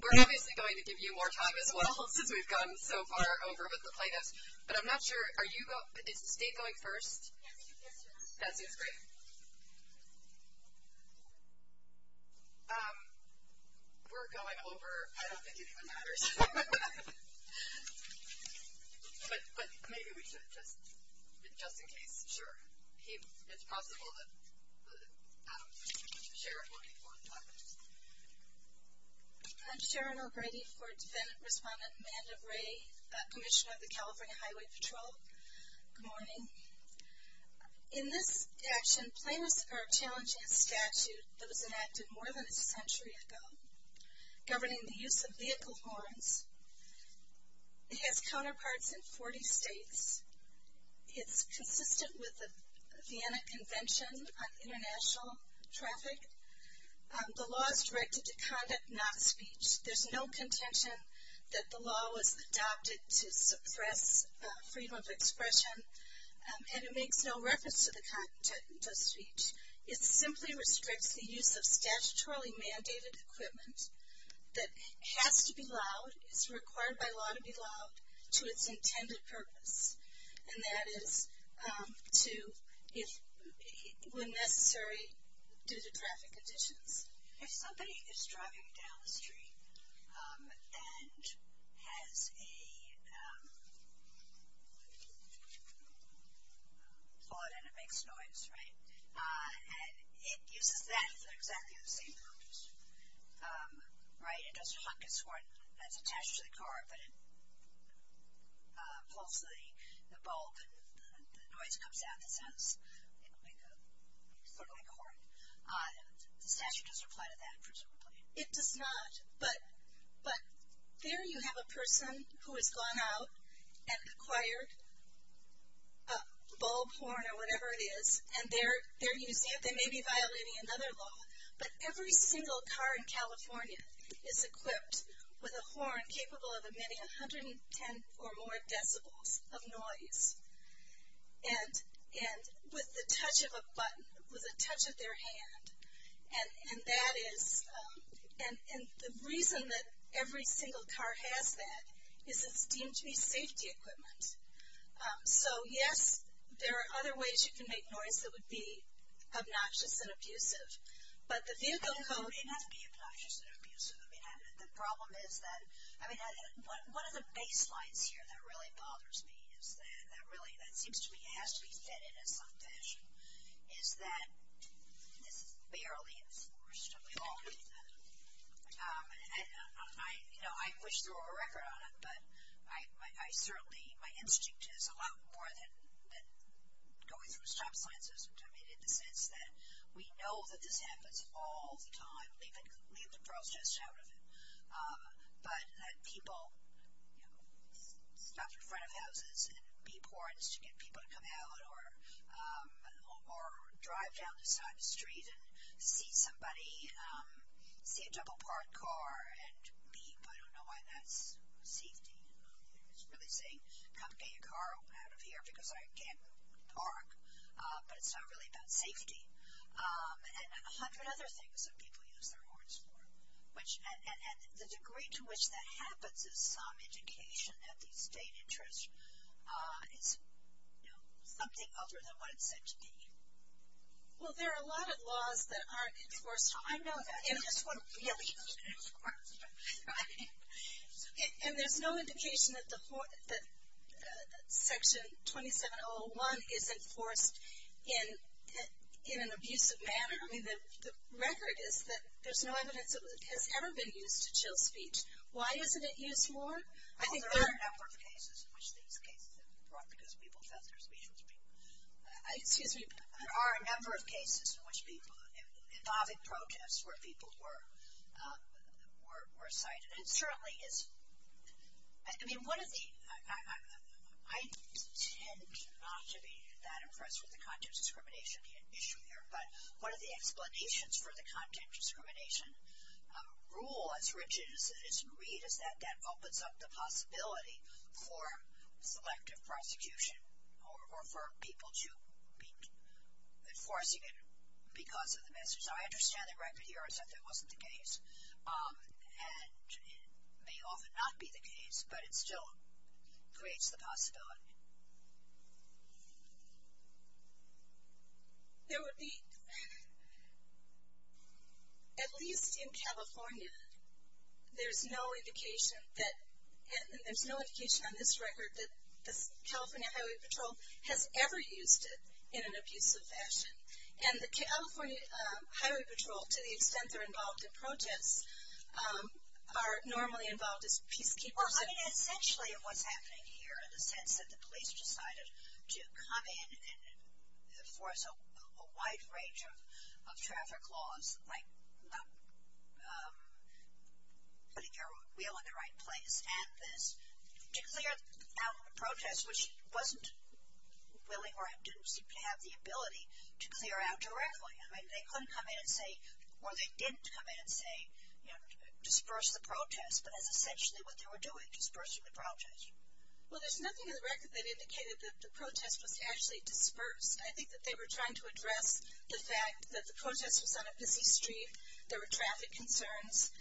we're obviously going to give you more time as well since we've come so far over with this item. But I'm not sure. Did Dave go first? That'd be great. We're going over. I don't think it even matters. But maybe we should just in case. Sure. It's possible that Sharon will respond to that. I'm Sharon O'Grady for Senate Respondent Amanda Ray, Commissioner of the California Highway Patrol. Good morning. In this action, plaintiffs are challenging a statute that was enacted more than a century ago governing the use of vehicle horns. It has counterparts in 40 states. It's consistent with the Vienna Convention on International Traffic. The law is directed to conduct non-speech. There's no contention that the law was adopted to suppress freedom of expression, and it makes no reference to the content of the speech. It simply restricts the use of statutorily mandated equipment that has to be loud, and it's required by law to be loud to its intended purpose, and that is to, when necessary, due to traffic conditions. Somebody is driving down the street and has a Ford and it makes noise, right? And that is exactly the same horns, right? It's attached to the car, but it pulls the bulb, and the noise comes out, and it's like a Ford-like horn. The statute doesn't apply to that, presumably. It does not. But there you have a person who has gone out and acquired a bulb horn or whatever it is, and they may be violating another law, but every single car in California is equipped with a horn capable of emitting 110 or more decibels of noise, and with the touch of a button, with the touch of their hand. And that is the reason that every single car has that, is this beam-shaped safety equipment. So, yes, there are other ways you can make noise that would be obnoxious and abusive. But the vehicle code- It has to be obnoxious and abusive. The problem is that, I mean, one of the baselines here that really bothers me is that, really, that it seems to me it has to be pitted and not finished, is that it's barely enforced. And, you know, I wish there were a record on it, but I certainly, my instinct is a lot more than going through a shop line just to make it convinced that we know that this happens all the time, we can leave the process out of it, but that people stop in front of houses and beep horns to get people to come out or drive down to the side of the street and see somebody in a double-parked car and beep. I don't know why that is safety. It's really saying, come get your car out of here because I can't park. But it's not really about safety. And a hundred other things that people use their horns for. And the degree to which that happens is not education. It doesn't have the state interest. It's, you know, something other than what it's meant to be. Well, there are a lot of laws that aren't enforced. I know that. And there's no indication that Section 2701 is enforced in an abusive manner. I mean, the record is that there's no evidence that it has ever been used to chill the feet. Why isn't it used more? There are a number of cases where people were cited. It certainly is. I mean, I tend not to be that impressed with the content discrimination issue here, but one of the explanations for the content discrimination rule as rigid as it is in Reed is that that opens up the possibility for elective prosecution or for people to be enforcing it because of the measure. So I understand the record here is that that wasn't the case. And it may often not be the case, but it still creates the possibility. There would be, at least in California, there's no indication on this record that the California Highway Patrol has ever used it in an abusive fashion. And the California Highway Patrol, to the extent they're involved in protests, are normally involved as people. Well, I mean, essentially what's happening here is that the police decided to come in and enforce a wide range of traffic laws, like putting your wheel in the right place at this, to clear out a protest, which he wasn't willing or didn't seem to have the ability to clear out directly. I mean, they couldn't come in and say, or they didn't come in and say, you know, disperse the protest. But that's essentially what they were doing, dispersing the protest. Well, there's nothing in the record that indicated that the protest was actually dispersed. I think that they were trying to address the fact that the protest was on a busy street, there were traffic concerns,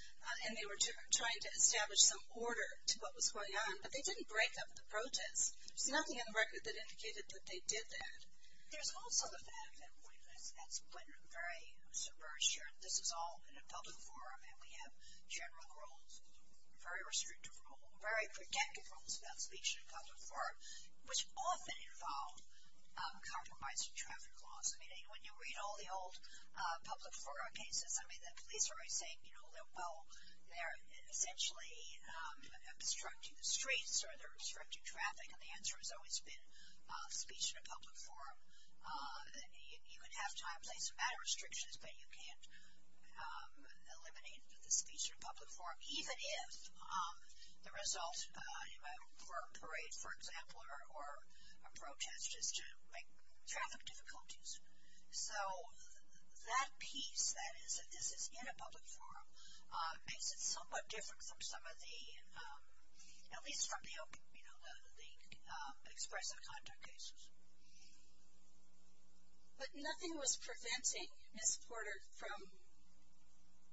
and they were trying to establish some order to what was going on. But they didn't break up the protest. There's nothing in the record that indicated that they did that. There's all parts of that. That's very subversive. This is all in a public forum, and we have general rules, very restrictive rules, very protective rules about the police in a public forum, which often involve compromising traffic laws. I mean, when you read all the old public forum cases, I mean, the police are always saying, you know, well, they're eventually obstructing the streets or they're obstructing traffic, and the answer has always been the speech in a public forum. You can have timelines and matter restrictions, but you can't eliminate the speech in a public forum, even if the result for a parade, for example, or a protest is to make traffic difficulties. So that piece that is in a public forum makes it somewhat different from some of the, you know, other things expressed on contact cases. But nothing was preventing Ms. Porter from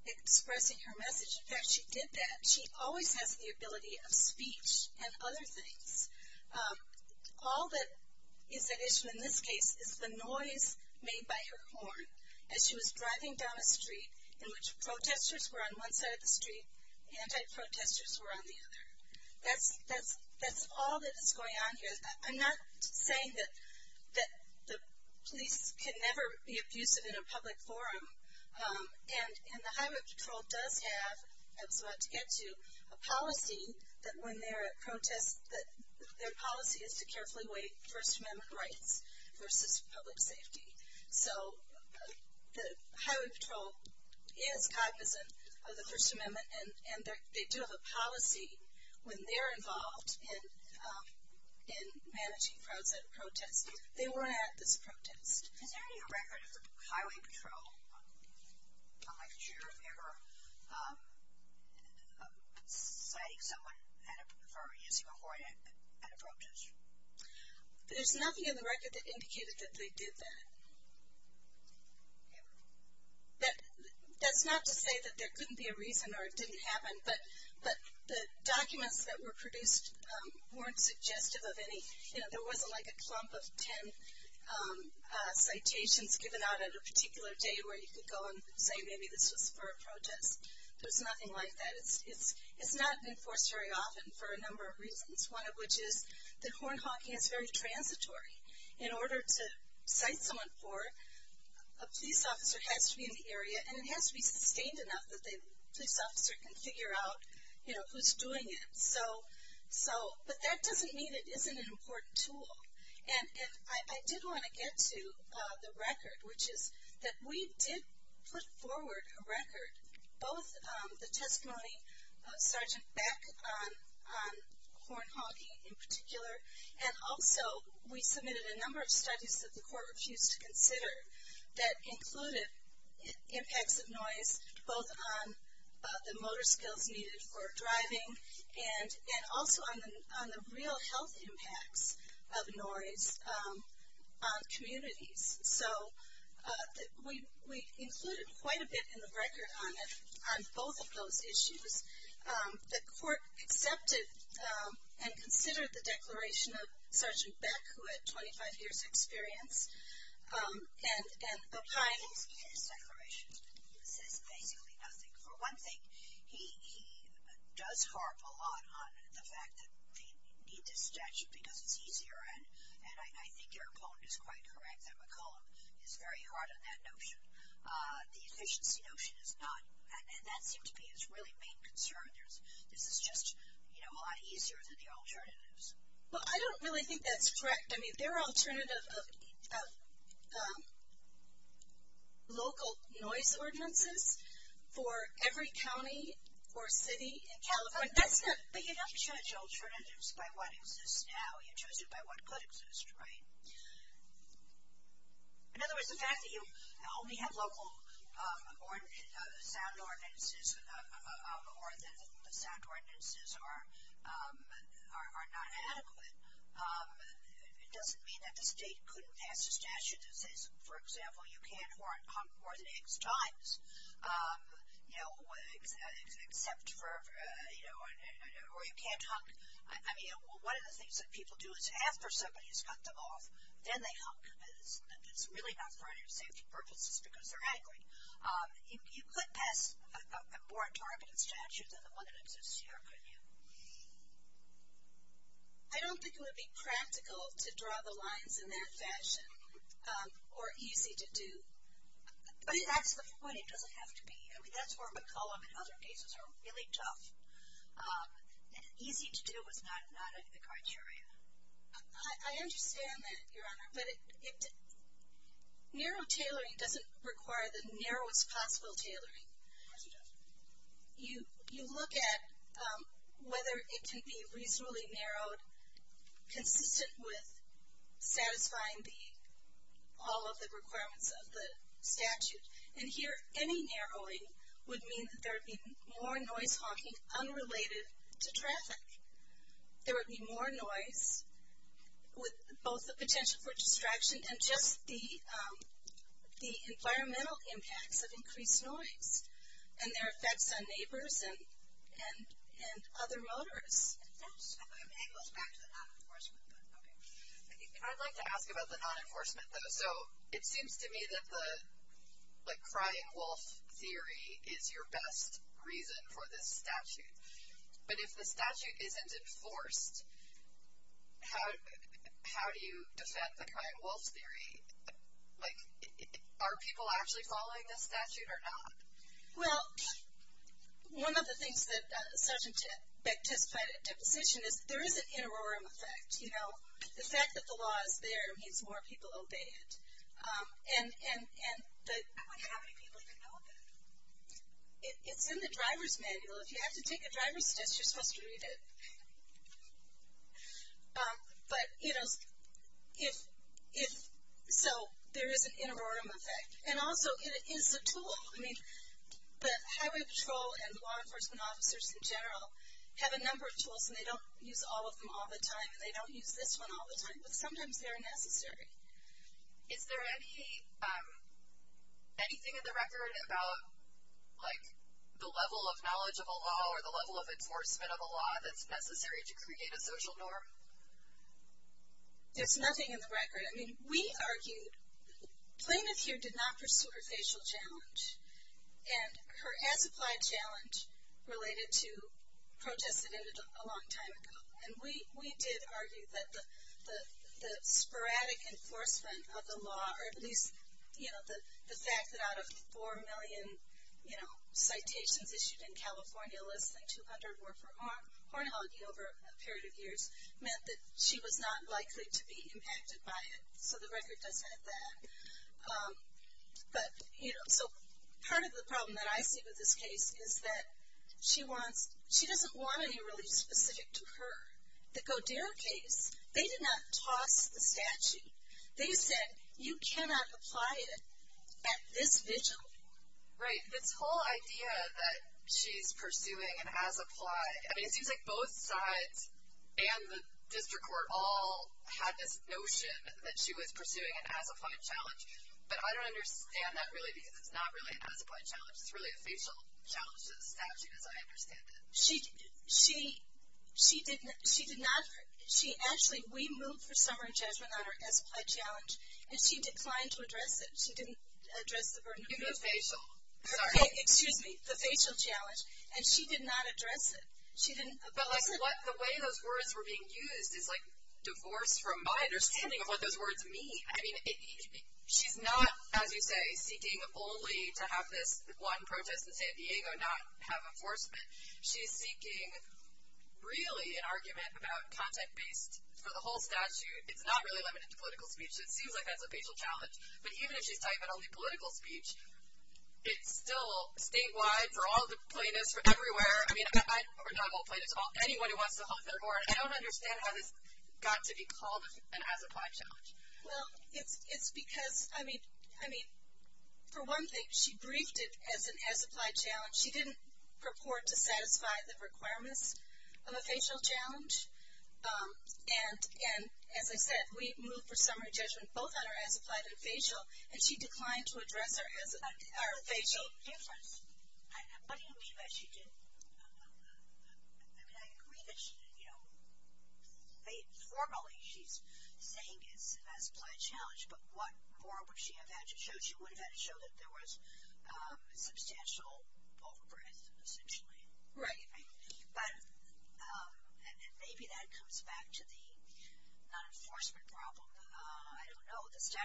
expressing her message. In fact, she did that. She always had the ability of speech and other things. All that is mentioned in this case is the noise made by her horn as she was driving down a street in which protesters were on one side of the street, anti-protesters were on the other. That's all that is going on here. I'm not saying that the police can never be abusive in a public forum, and the Highway Patrol does have, as we'll get to, a policy that when they're at protests, that their policy is to carefully weigh First Amendment rights versus public safety. So the Highway Patrol is cognizant of the First Amendment, and they do have a policy when they're involved in managing protests. They weren't at the protests. Any records of Highway Patrol officers ever slaying someone or using a horn at a protest? There's nothing in the record that indicates that they did that. That's not to say that there couldn't be a reason or it didn't happen, but the documents that were produced weren't suggestive of any, you know, there wasn't like a clump of ten citations given out on a particular day where you could go and say maybe this was for a protest. There's nothing like that. It's not enforced very often for a number of reasons, one of which is that horn honking is very transitory. In order to cite someone for it, a police officer has to be in the area, and it has to be contained enough that the officer can figure out, you know, who's doing it. But that doesn't mean it isn't an important tool. And I did want to get to the record, which is that we did put forward a record, both the testimony of Sergeant Beck on horn honking in particular, and also we submitted a number of studies that the court refused to consider that included impacts of noise both on the motor skills needed for driving and also on the real health impact of noise on communities. So we included quite a bit in the record on both of those issues. The court accepted and considered the declaration of Sergeant Beck, who had 25 years' experience. And at the time, he had declarations that he didn't say anything. For one thing, he does harp a lot on the fact that he didn't suggest it because it's easier, and I think your point is quite correct that McCollum is very hard on that notion. The efficiency notion is not, and that seems to be his real main concern, is it's just a lot easier than the alternatives. Well, I don't really think that's correct. I mean, there are alternatives of local noise ordinances for every county or city in California. But you don't judge alternatives by what exists now. You judge it by what could exist, right? In other words, the fact that you only have local sound ordinances or that the sound ordinances are not adequate, it doesn't mean that the state couldn't add statutes. For example, you can't warrant pump or legs, joints, you know, or you can't hump. I mean, one of the things that people do is after somebody has humped them off, then they hump. It's really not part of your safety purpose. It's because they're angry. You couldn't add a warrant-targeted statute that doesn't exist here, could you? I don't think it would be practical to draw the lines in that fashion or easy to do. But at this point, it doesn't have to be. I mean, that's where McCulloch and other cases are really tough. And easy to do is not a criteria. I understand that, Your Honor. But narrow tailoring doesn't require the narrowest possible tailoring. You look at whether it can be reasonably narrowed consistent with satisfying all of the requirements of the statute. And here, any narrowing would mean that there would be more noise-talking unrelated to traffic. There would be more noise with both the potential for distraction and just the environmental impact of increased noise and their effects on neighbors and other motorists. I'd like to ask about the non-enforcement. So it seems to me that the, like, crying wolf theory is your best reason for this statute. But if the statute is in discourse, how do you defend the crying wolf theory? Like, are people actually following this statute or not? Well, one of the things that Tip said at the beginning is there is an interim effect. You know, the fact that the law is there means more people obey it. And how many people can help it? It's in the driver's manual. You have to take a driver's statute to read it. But, you know, so there is an interim effect. And also, it is a tool. I mean, the Highway Patrol and law enforcement officers in general have a number of tools, and they don't use all of them all the time. They don't use this one all the time. But sometimes they're necessary. Is there anything in the record about, like, the level of knowledge of a law or the level of enforcement of a law that's necessary to create a social norm? There's nothing in the record. I mean, we argued plaintiff here did not pursue her facial challenge and her as-applied challenge related to protestantism a long time ago. And we did argue that the sporadic enforcement of the law, or at least, you know, the fact that out of 4 million, you know, citations issued in California, less than 200 were for pornography over a period of years, meant that she was not likely to be impacted by it. So the record doesn't say that. But, you know, part of the problem that I see with this case is that she doesn't want to be really specific to her. Because their case, they did not talk to the statute. They said, you cannot apply it at this visual. Right. This whole idea that she's pursuing an as-applied, I mean, it seems like both sides and the district court all had this notion that she was pursuing an as-applied challenge. But I don't understand that really being not really an as-applied challenge. It's really a facial challenge to the statute, as I understand it. She did not, she actually, we moved her summary judgment on her as-applied challenge, and she declined to address it. She didn't address the verdict. It's a facial. Sorry. Excuse me. It's a facial challenge. And she did not address it. She didn't. But, like, the way those words were being used is, like, divorced from my understanding of what those words mean. I mean, she's not, as you say, she's speaking boldly to have the squadron protest in San Diego and not have enforcement. She's speaking really in argument about content-based for the whole statute. It's not really limited to political speech. It seems like that's a facial challenge. But even if she's saying that only political speech is still statewide for all the plaintiffs, for everywhere, I mean, I, for example, plaintiffs call anyone who wants to hold their court. I don't understand how this got to be called an as-applied challenge. Well, it's because, I mean, for one thing, she briefed it as an as-applied challenge. She didn't purport to satisfy the requirements of a facial challenge. And, as I said, we moved for summary judgment both on our as-applied and facial, and she declined to address our facial. What do you wish that she did? I mean, I agree that she, you know, formally she's saying it's an as-applied challenge, but what more would she have had to show? She wouldn't have had to show that there was substantial overburdens, essentially. Right. But maybe that comes back to the enforcement problem. I don't know. I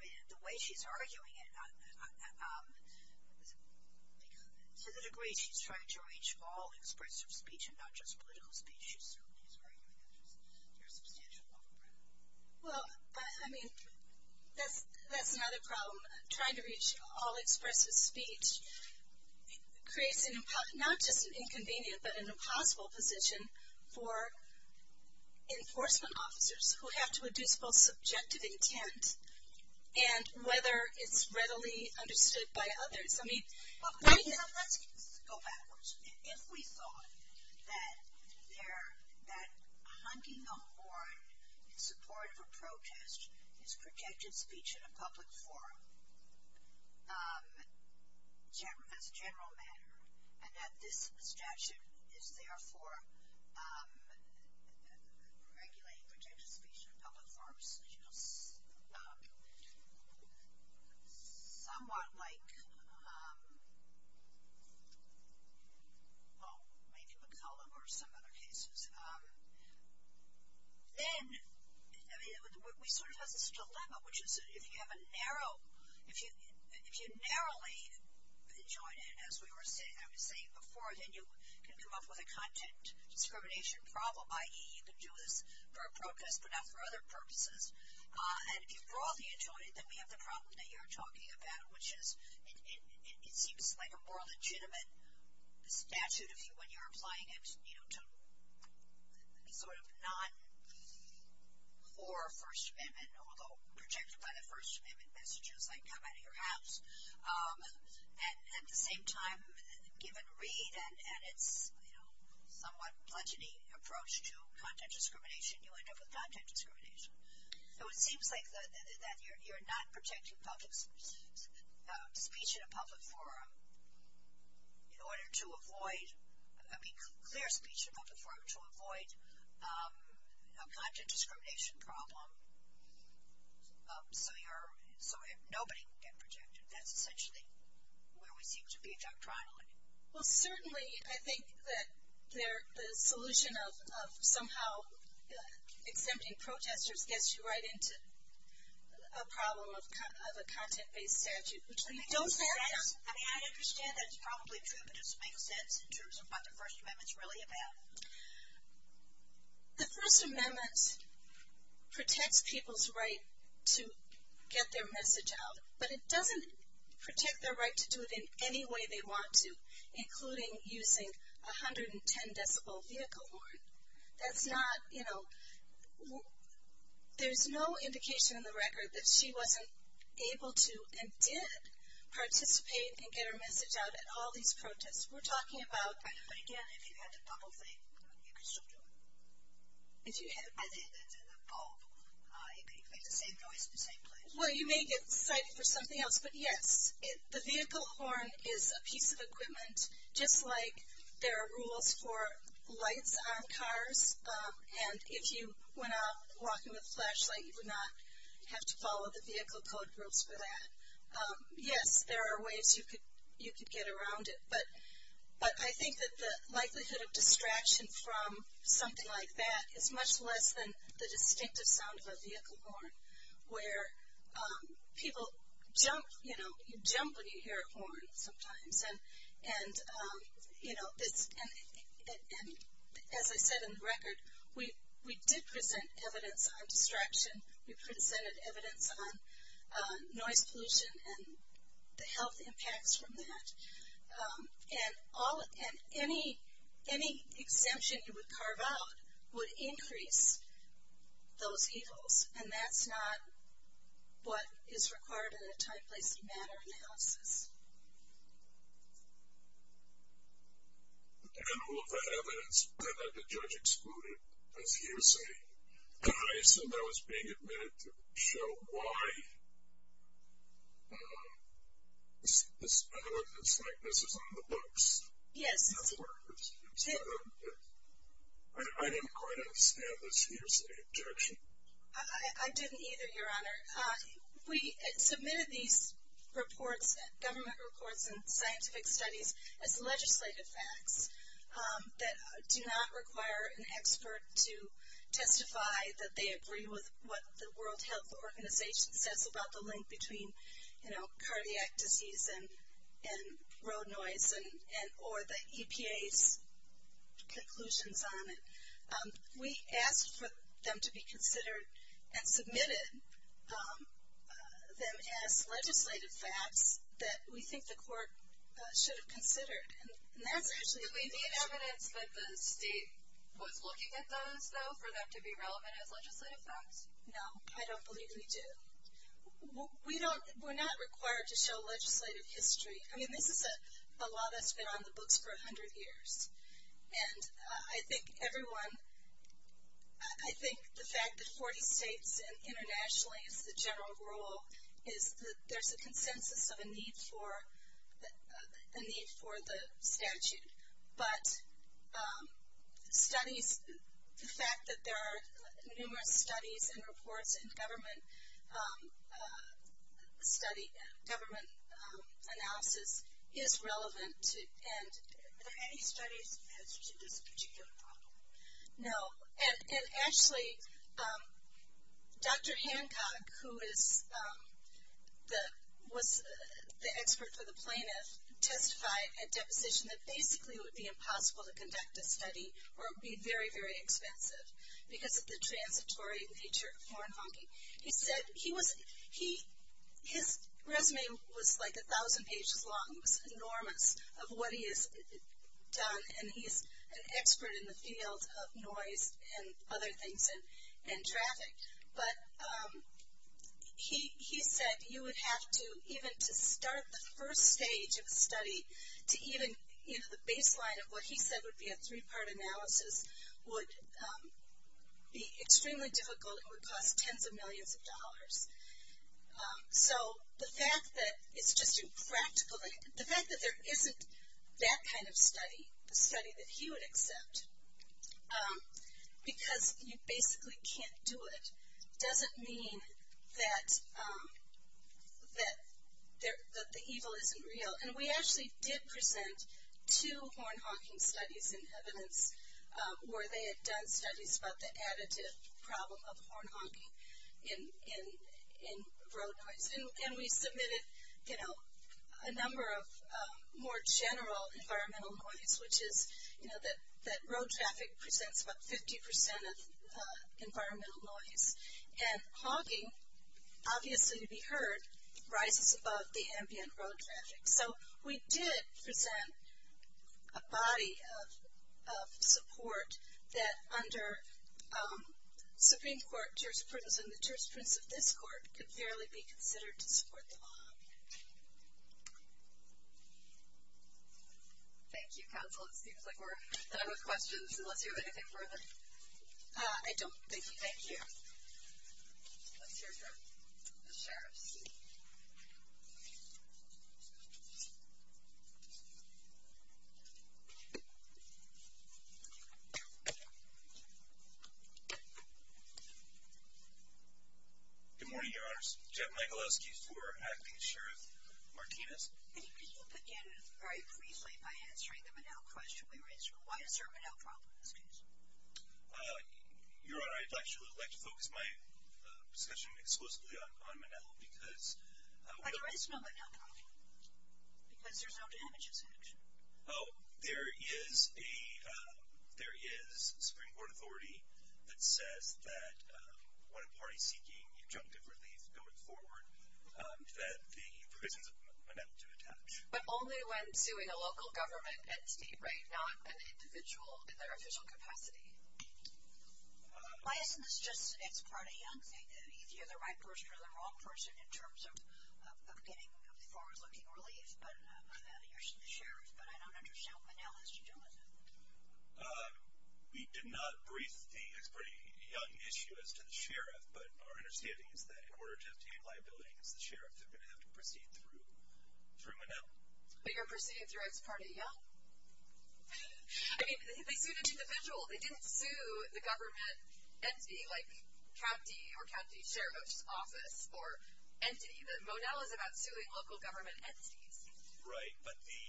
mean, the way she's arguing it, to the degree she's trying to reach all expressive speech and not just political speech, she certainly is arguing that there's substantial overburdens. Well, I mean, that's not a problem. Trying to reach all expressive speech creates not just an inconvenience but an impossible position for enforcement officers who have to address both subjective intent and whether it's readily understood by others. I mean, we can't go backwards. If we thought that hunting a horn in support for protest is protected speech in a public forum, as a general matter, and that the statute is there for regulating protected speech in public forums, you know, somewhat like, well, maybe McCulloch or some other cases, then we sort of have this dilemma, which is if you have a narrow, if you narrowly enjoy it as we were saying before, then you can come up with a content discrimination problem, i.e., you can do this for a protest but not for other purposes. And if you broadly enjoy it, then we have the problem that you're talking about, which is you can find a more legitimate statute of view when you're applying it, you know, to sort of not or First Amendment, although protected by the First Amendment, that's just like come out of your house. And at the same time, give it read and edit, you know, a more budgety approach to content discrimination, you'll end up with content discrimination. So it seems like that you're not protecting speech in a public forum in order to avoid, I mean, there's a speech in a public forum to avoid a budget discrimination problem. Nobody can get protected. That's essentially where we need to be doctrinally. Well, certainly I think that the solution of somehow exempting protesters gets you right into a problem of a content-based statute. I understand that's probably true, but it doesn't make sense in terms of what the First Amendment is really about. The First Amendment protects people's right to get their message out, but it doesn't protect their right to do it in any way they want to, including using a 110-decibel vehicle horn. That's not, you know, there's no indication in the record that she wasn't able to and did participate and get her message out at all these protests. We're talking about. But, again, if you had it all the way, you could still do it. If you had it as a whole, it would make the same noise in the same place. Well, you may get criticized for something else. But, yes, the vehicle horn is a piece of equipment, just like there are rules for lights on cars. And if you went out walking with a flashlight, you would not have to follow the vehicle code rules for that. Yes, there are ways you could get around it. But I think that the likelihood of distraction from something like that is much less than the distinctive sounds of a vehicle horn, where people jump, you know, you jump when you hear a horn sometimes. And, you know, as I said in the record, we did present evidence on distraction. We presented evidence on noise pollution and the health impacts from that. And any exemption that was carved out would increase those tables, and that's not what is required in a time-sensitive matter in health. And all of the evidence that the judge excluded was hearsay. And I assume that was being admitted to show why. It's like this is on the books. Yes. I didn't quite understand this hearsay objection. I didn't either, Your Honor. We submitted these reports, government reports and scientific studies, as legislative facts that do not require an expert to testify that they agree with what the World Health Organization says about the link between, you know, cardiac disease and road noise or the EPA's conclusions on it. We asked for them to be considered and submitted them as legislative facts that we think the court should have considered. And that actually may be evidence that the state was looking at those, though, for them to be relevant as legislative facts. No, I don't believe we do. We're not required to show legislative history. I mean, this is a law that's been on the books for 100 years. And I think everyone, I think the fact that 40 states and internationally the general rule is that there's a consensus of a need for the statute. But studies, the fact that there are numerous studies and reports and government analysis is relevant. And are there any studies to this particular problem? No. And actually, Dr. Hancock, who is the expert for the plaintiffs, testified at that position that basically it would be impossible to conduct this study or it would be very, very expensive because of the transitory nature of horn honking. He said he was, his resume was like 1,000 pages long, enormous, of what he has done. And he's an expert in the field of noise and other things and traffic. But he said you would have to, even to start the first stage of the study, to even use the baseline of what he said would be a three-part analysis, would be extremely difficult. It would cost tens of millions of dollars. So the fact that it's such a practical, the fact that there isn't that kind of study, a study that he would accept, because you basically can't do it, doesn't mean that the evil isn't real. And we actually did present two horn honking studies in evidence where they had done studies about the additive problem of horn honking in road noise. And we submitted, you know, a number of more general environmental noise, which is, you know, that road traffic presents about 50% of environmental noise. And honking, obviously to be heard, rises above the ambient road traffic. So we did present a body of support that under Supreme Court jurisprudence and the jurisprudence of this court could fairly be considered to support the law. Thank you, Counsel. It seems like we're out of questions. Do we have anything further? I don't think so. Thank you. Here you are. Yes, sir. Good morning, Your Honors. Jeff Michalowski, Superior Advocacy Assurance, Martinez. Thank you. Again, very briefly, I had a strength of the mouth question. We raised a quiet term of mouth problem in this case. Your Honor, I'd actually like to focus my discussion exclusively on MNL because there is a Supreme Court authority that says that when a party is seeking injunctive relief going forward, that the provision of MNL should attach. But only when it's doing a local government entity, right, not an individual in their official capacity. Why isn't this just an ex parte? Is he the right person or the wrong person in terms of getting as far as looking for relief? You're a sheriff, but I don't understand how MNL has to deal with it. We did not raise the ex parte issue as to the sheriff, but our understanding is that in order to obtain liabilities, the sheriffs have been having to proceed through MNL. But you're proceeding through ex parte, yeah? I mean, they sued an individual. They didn't sue the government entity, like, trustee or trustee sheriff's office or entity. MNL is about suing local government entities. Right, but the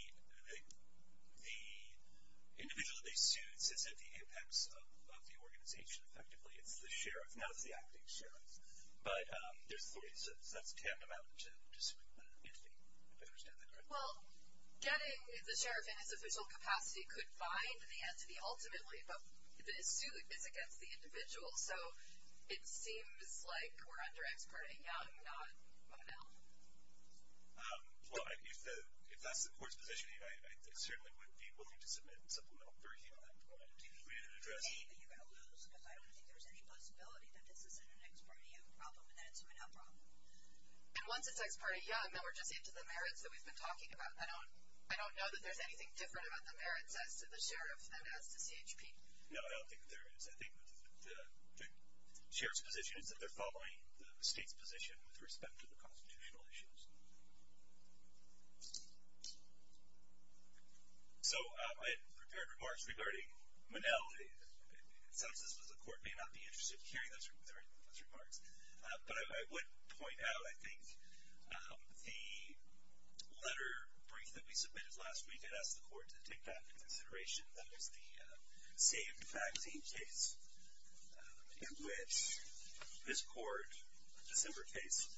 individual they sued says that the ex of the organization, effectively, is the sheriff. Now it's the acting sheriff. But it's important to tap them out to see if the entity could understand that. Well, getting the sheriff in his official capacity could bind the entity, ultimately, but the suit is against the individual. So it seems like we're under ex parte. Now we've got MNL. Well, if that's the court's position, I assume it would be looking to submit a supplemental version of MNL. Excuse me. I don't think you're going to lose, because I don't think there's any possibility that this is an ex parte problem and it's a MNL problem. And once it's ex parte, yeah, I know we're jumping to the merits that we've been talking about. I don't know that there's anything different about the merits that the sheriff has than the AGP. No, I don't think there is. I think the sheriff's position is that there's probably a steep position with respect to the constitutional issues. So I have prepared remarks regarding MNL. If this was the court, they would not be interested in hearing those remarks. But I would point out, I think the letter bringing the piece of this last week, it asked the court to take that into consideration, that would be a vaccine case in which this court, in December case,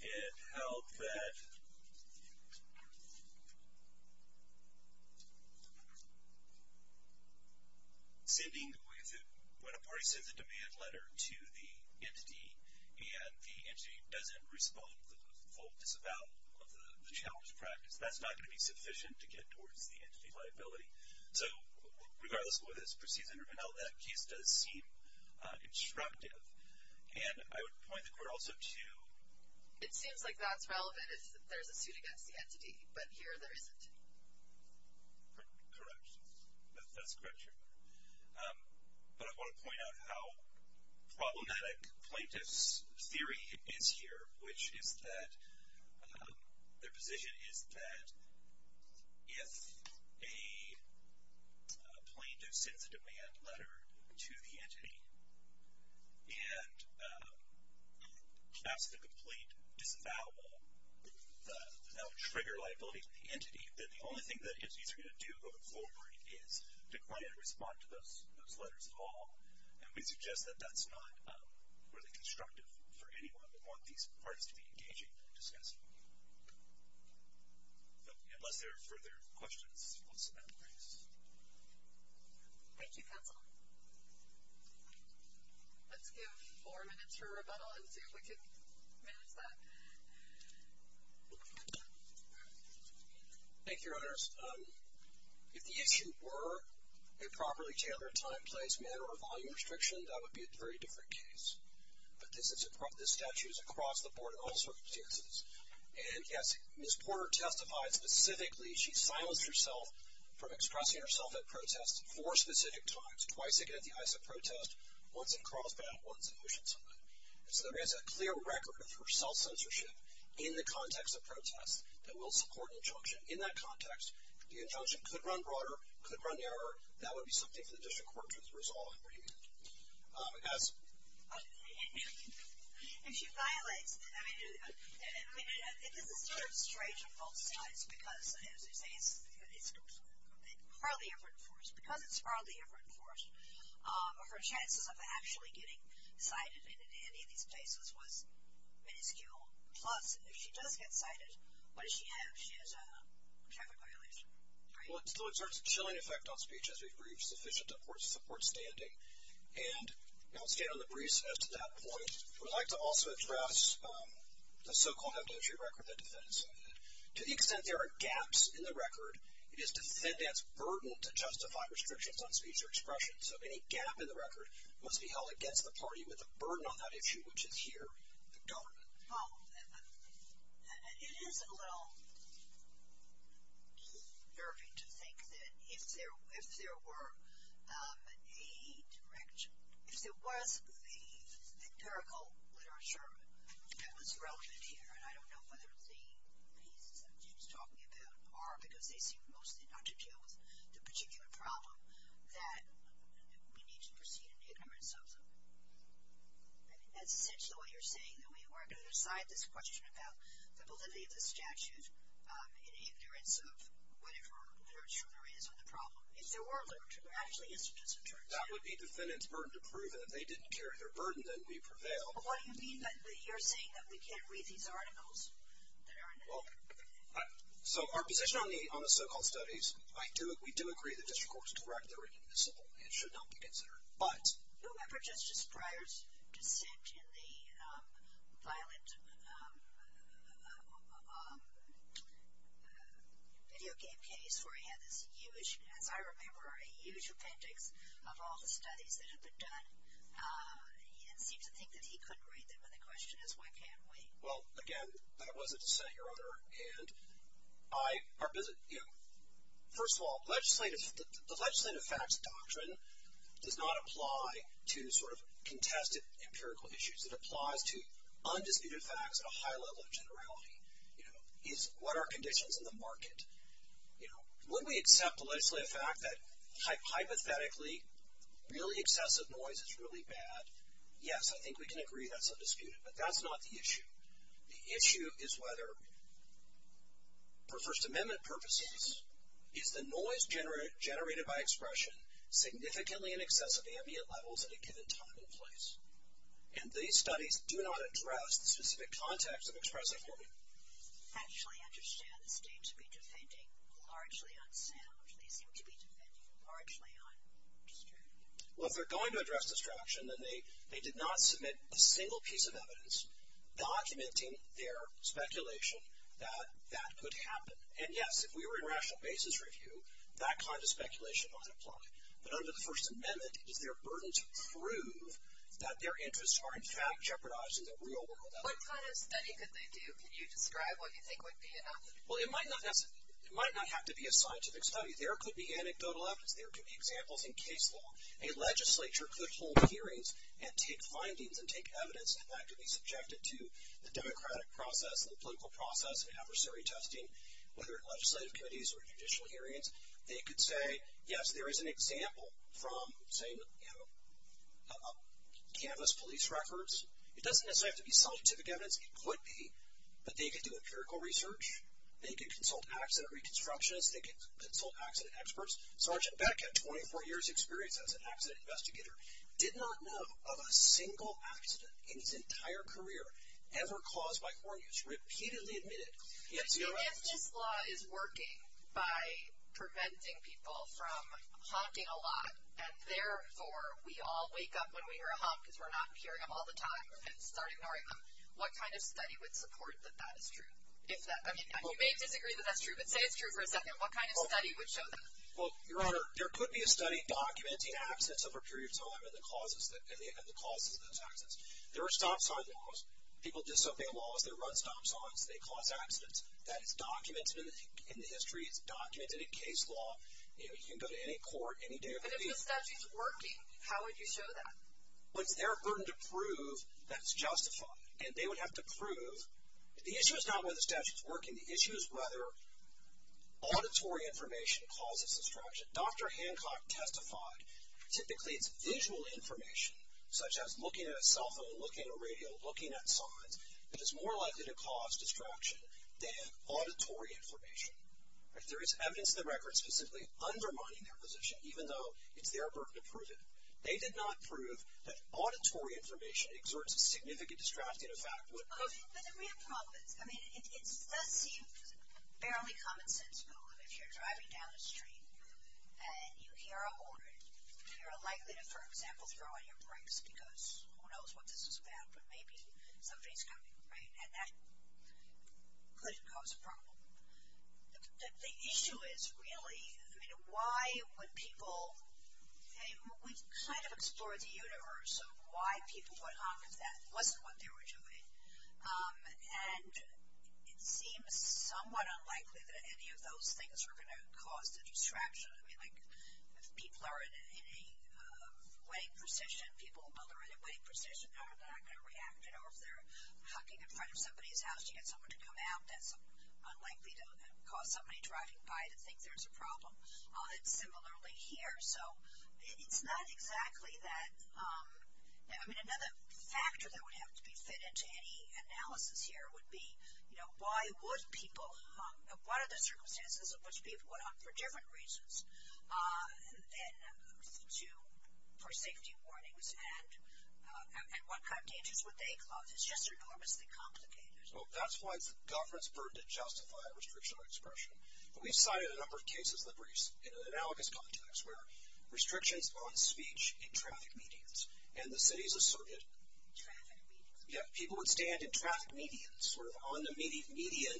it held that when a party sends a demand letter to the entity, and the entity doesn't respond with a focus about the challenge practice, that's not going to be sufficient to get towards the entity liability. So regardless of what is perceived under MNL, that case doesn't seem constructive. And I would point the court also to- It seems like that's not relevant. There's a duty against the entity, but here there isn't. Correct. That's correct, sure. But I want to point out how problematic plaintiff's theory is here, which is that their position is that if a plaintiff sends a demand letter to the entity and has to complete an avowal, that would trigger liability for the entity, that the only thing that gets you through to the floor party is to go ahead and respond to those letters at all. And we suggest that that's not really constructive for anyone that wants these parties to be engaging and discussing. Unless there are further questions, I suppose, at this point. Thank you, counsel. Let's give four minutes for rebuttal and see if we can manage that. Thank you, Your Honors. If the actions were improperly gendered time, place, manner, or volume restriction, that would be a very different case. But this statute is across the board in all sorts of cases. And yet Ms. Porter testified specifically she silenced herself from expressing herself at protests four specific times, twice, again, in the eyes of protest, once at cross-battle, once at mission time. So there is a clear record for self-censorship in the context of protest that will support an injunction. In that context, the injunction could run broader, could run narrower. That would be something the district court could resolve for you. If she silenced, I mean, it's a very strange result because it's probably effort enforced. Because it's probably effort enforced, her chances of actually getting silenced in any of these cases was very little. Plus, if she does get silenced, what does she have? She has a traffic violation. Well, it still exerts a chilling effect on speech, as we've briefed, but it's sufficient to support standing. And I'll stay on the briefs as to that point. I would like to also address the so-called negligent record that defendants sign. To the extent there are gaps in the record, it is the defendant's burden to justify restrictions on speech or expression. So any gap in the record must be held against the party with a burden on that issue, which is here the government. Follow-up. Isn't it a little derpy to think that if there were a direction, if there was the empirical literature that was relevant here, and I don't know whether the people she's talking about are, because they seem most inattentive to particular problems, that we need to proceed in terms of, that's essentially what you're saying, that we aren't going to decide this question about the validity of the statute in terms of whatever literature there is on the problem. If there were literature, actually, in terms of jurisdiction. That would be the defendant's burden to prove it. If they didn't carry their burden, then we prevail. But what you mean by that, you're saying that we can't read these articles that are in there? So our position on the so-called studies, we do agree that it's, of course, directly related to civil, and it should not be considered. Remember Justice Breyer's comment in the violent video game case where he had, I remember, a huge appendix of all the studies that had been done, and he didn't think that he could read them. And the question is, why can't we? Well, again, that was a dissent, Your Honor. First of all, the legislative facts doctrine does not apply to sort of contested empirical issues. It applies to undisputed facts at a high level of generality, is what are conditions in the market. When we accept the legislative fact that hypothetically, really excessive noise is really bad, yes, I think we can agree that's undisputed. But that's not the issue. The issue is whether, for First Amendment purposes, is the noise generated by expression significantly in excess of ambient levels at a given time and place. And these studies do not address the specific context of expressive morbidity. Actually, I understand that the claims to be dissenting are actually unsaid, or the claims to be dissenting are actually undisturbed. Well, if they're going to address distraction, then they did not submit a single piece of evidence documenting their speculation that that could happen. And, yes, if we were in a rational basis review, that kind of speculation might apply. But under the First Amendment, is there a burden to prove that their interests are in fact jeopardizing the real world? What kind of study could they do? Could you describe what you think would be an avenue? Well, it might not have to be a scientific study. There could be anecdotal evidence. There could be examples in case law. A legislature could hold hearings and take findings and take evidence, and that could be subjected to the democratic process, the political process, and adversary testing, whether it's legislative committees or judicial hearings. They could say, yes, there is an example from, say, you know, campus police records. It doesn't have to be scientific evidence. It could be that they could do empirical research. They could consult accident reconstructionists. They could consult accident experts. Sergeant Beck had 24 years' experience as an accident investigator, did not know of a single accident in his entire career ever caused by corn use. Repeatedly admitted. Yes, you got it right. If this law is working by preventing people from honking a lot, and therefore we all wake up when we hear a honk because we're not hearing them all the time and start ignoring them, what kind of study would support that that is true? I mean, you may disagree that that's true, but say it's true for a second. What kind of study would show that? Well, Your Honor, there could be a study documenting accidents over a period of time and the causes of those accidents. There are stop sign laws. People do something to laws that run stop signs and they cause accidents. That is documented in the history, documented in case law. You know, you can go to any court, any day of the week. But if the statute is working, how would you show that? Well, they're hurting to prove that it's justified, and they would have to prove the issue is not whether the statute is working. The issue is whether auditory information causes distraction. Dr. Hancock testified typically that visual information, such as looking at a cell phone, looking at a radio, looking at a sign, that it's more likely to cause distraction than auditory information. There is evidence in the record specifically undermining their position, even though it's their work to prove it. They did not prove that auditory information exerts a significant distracting effect. Let me come up with, I mean, it does seem fairly common sense, though, if you're driving down a street and you hear a horn, you're likely to, for example, throw out your brakes because who knows what this is about, but maybe somebody's coming, right? And that could cause a problem. The issue is really, I mean, why would people, I mean, we kind of explore the universe of why people would hop that, what's what they were doing, and it seems somewhat unlikely that any of those things are going to cause the distraction. I mean, like, if people are in a waiting position, people who are in a waiting position are not going to react, you know, if they're hopping in front of somebody's house, you get somebody to come out, that's unlikely to cause somebody driving by to think there's a problem. This is audited similarly here. So it's not exactly that, I mean, another factor that would have to be fit into any analysis here would be, you know, why would people hop, you know, what are the circumstances at which people would hop for different reasons than to, for safety warnings, and what kind of dangers would they cause? It's just enormously complicated. Well, that's why the government's burden to justify restriction on expression. We've cited a number of cases in analogous context where restrictions on speech in traffic medians, and the cities asserted that people would stand in traffic medians, sort of on the median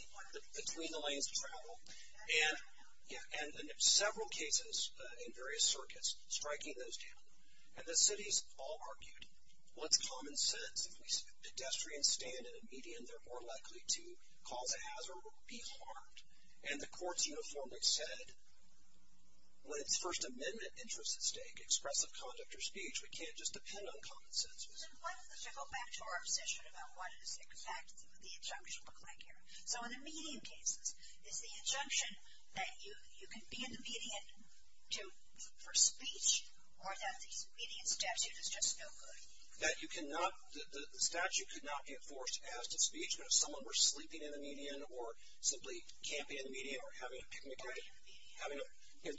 between the lanes to travel, and in several cases in various circuits, striking those down, and the cities all argued with common sense, if we said pedestrians stand in a median, they're more likely to call the hazard or be harmed, and the courts uniformly said when a First Amendment interest is to express a conduct or speech, we can't just depend on common sense. So why don't we go back to our position about what exactly the injunctions look like here. So in a median case, is the injunction that you can be in the median for speech, or that the median statute is just no good? That you cannot, the statute could not be enforced as to speech, but if someone were sleeping in the median, or simply camping in the median, or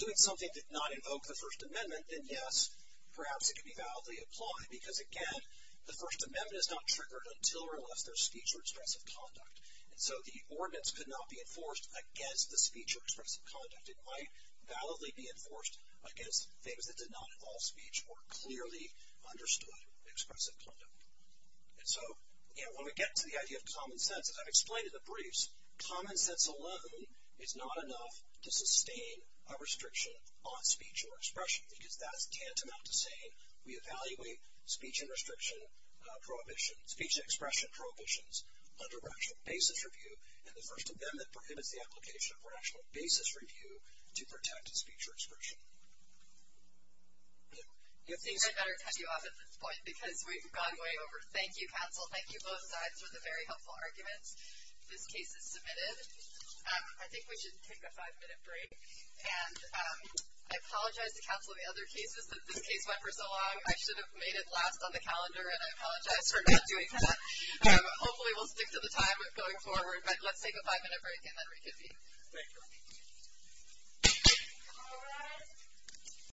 doing something that did not invoke the First Amendment, then, yes, perhaps it could be validly applied, because, again, the First Amendment is not triggered until or unless there's speech or expressive conduct. So the ordinance could not be enforced against the speech or expressive conduct. It might validly be enforced against things that did not involve speech or clearly understood expressive conduct. So when we get to the idea of common sense, as I've explained in the briefs, common sense alone is not enough to sustain a restriction on speech or expression, because that is tantamount to saying we evaluate speech and expression prohibitions under rational basis review, and the First Amendment prohibits the application of rational basis review to protect speech or expression. You'll see that I cut you off at this point because we've gone way over. Thank you, Council. Thank you both. That was a very helpful argument. This case is submitted. I think we should take a five-minute break. And I apologize to Council and the other cases. This case went for so long I should have made it last on the calendar, and I apologize for not doing that. Hopefully we'll stick to the time that's going forward, but let's take a five-minute break and then resume. Thank you.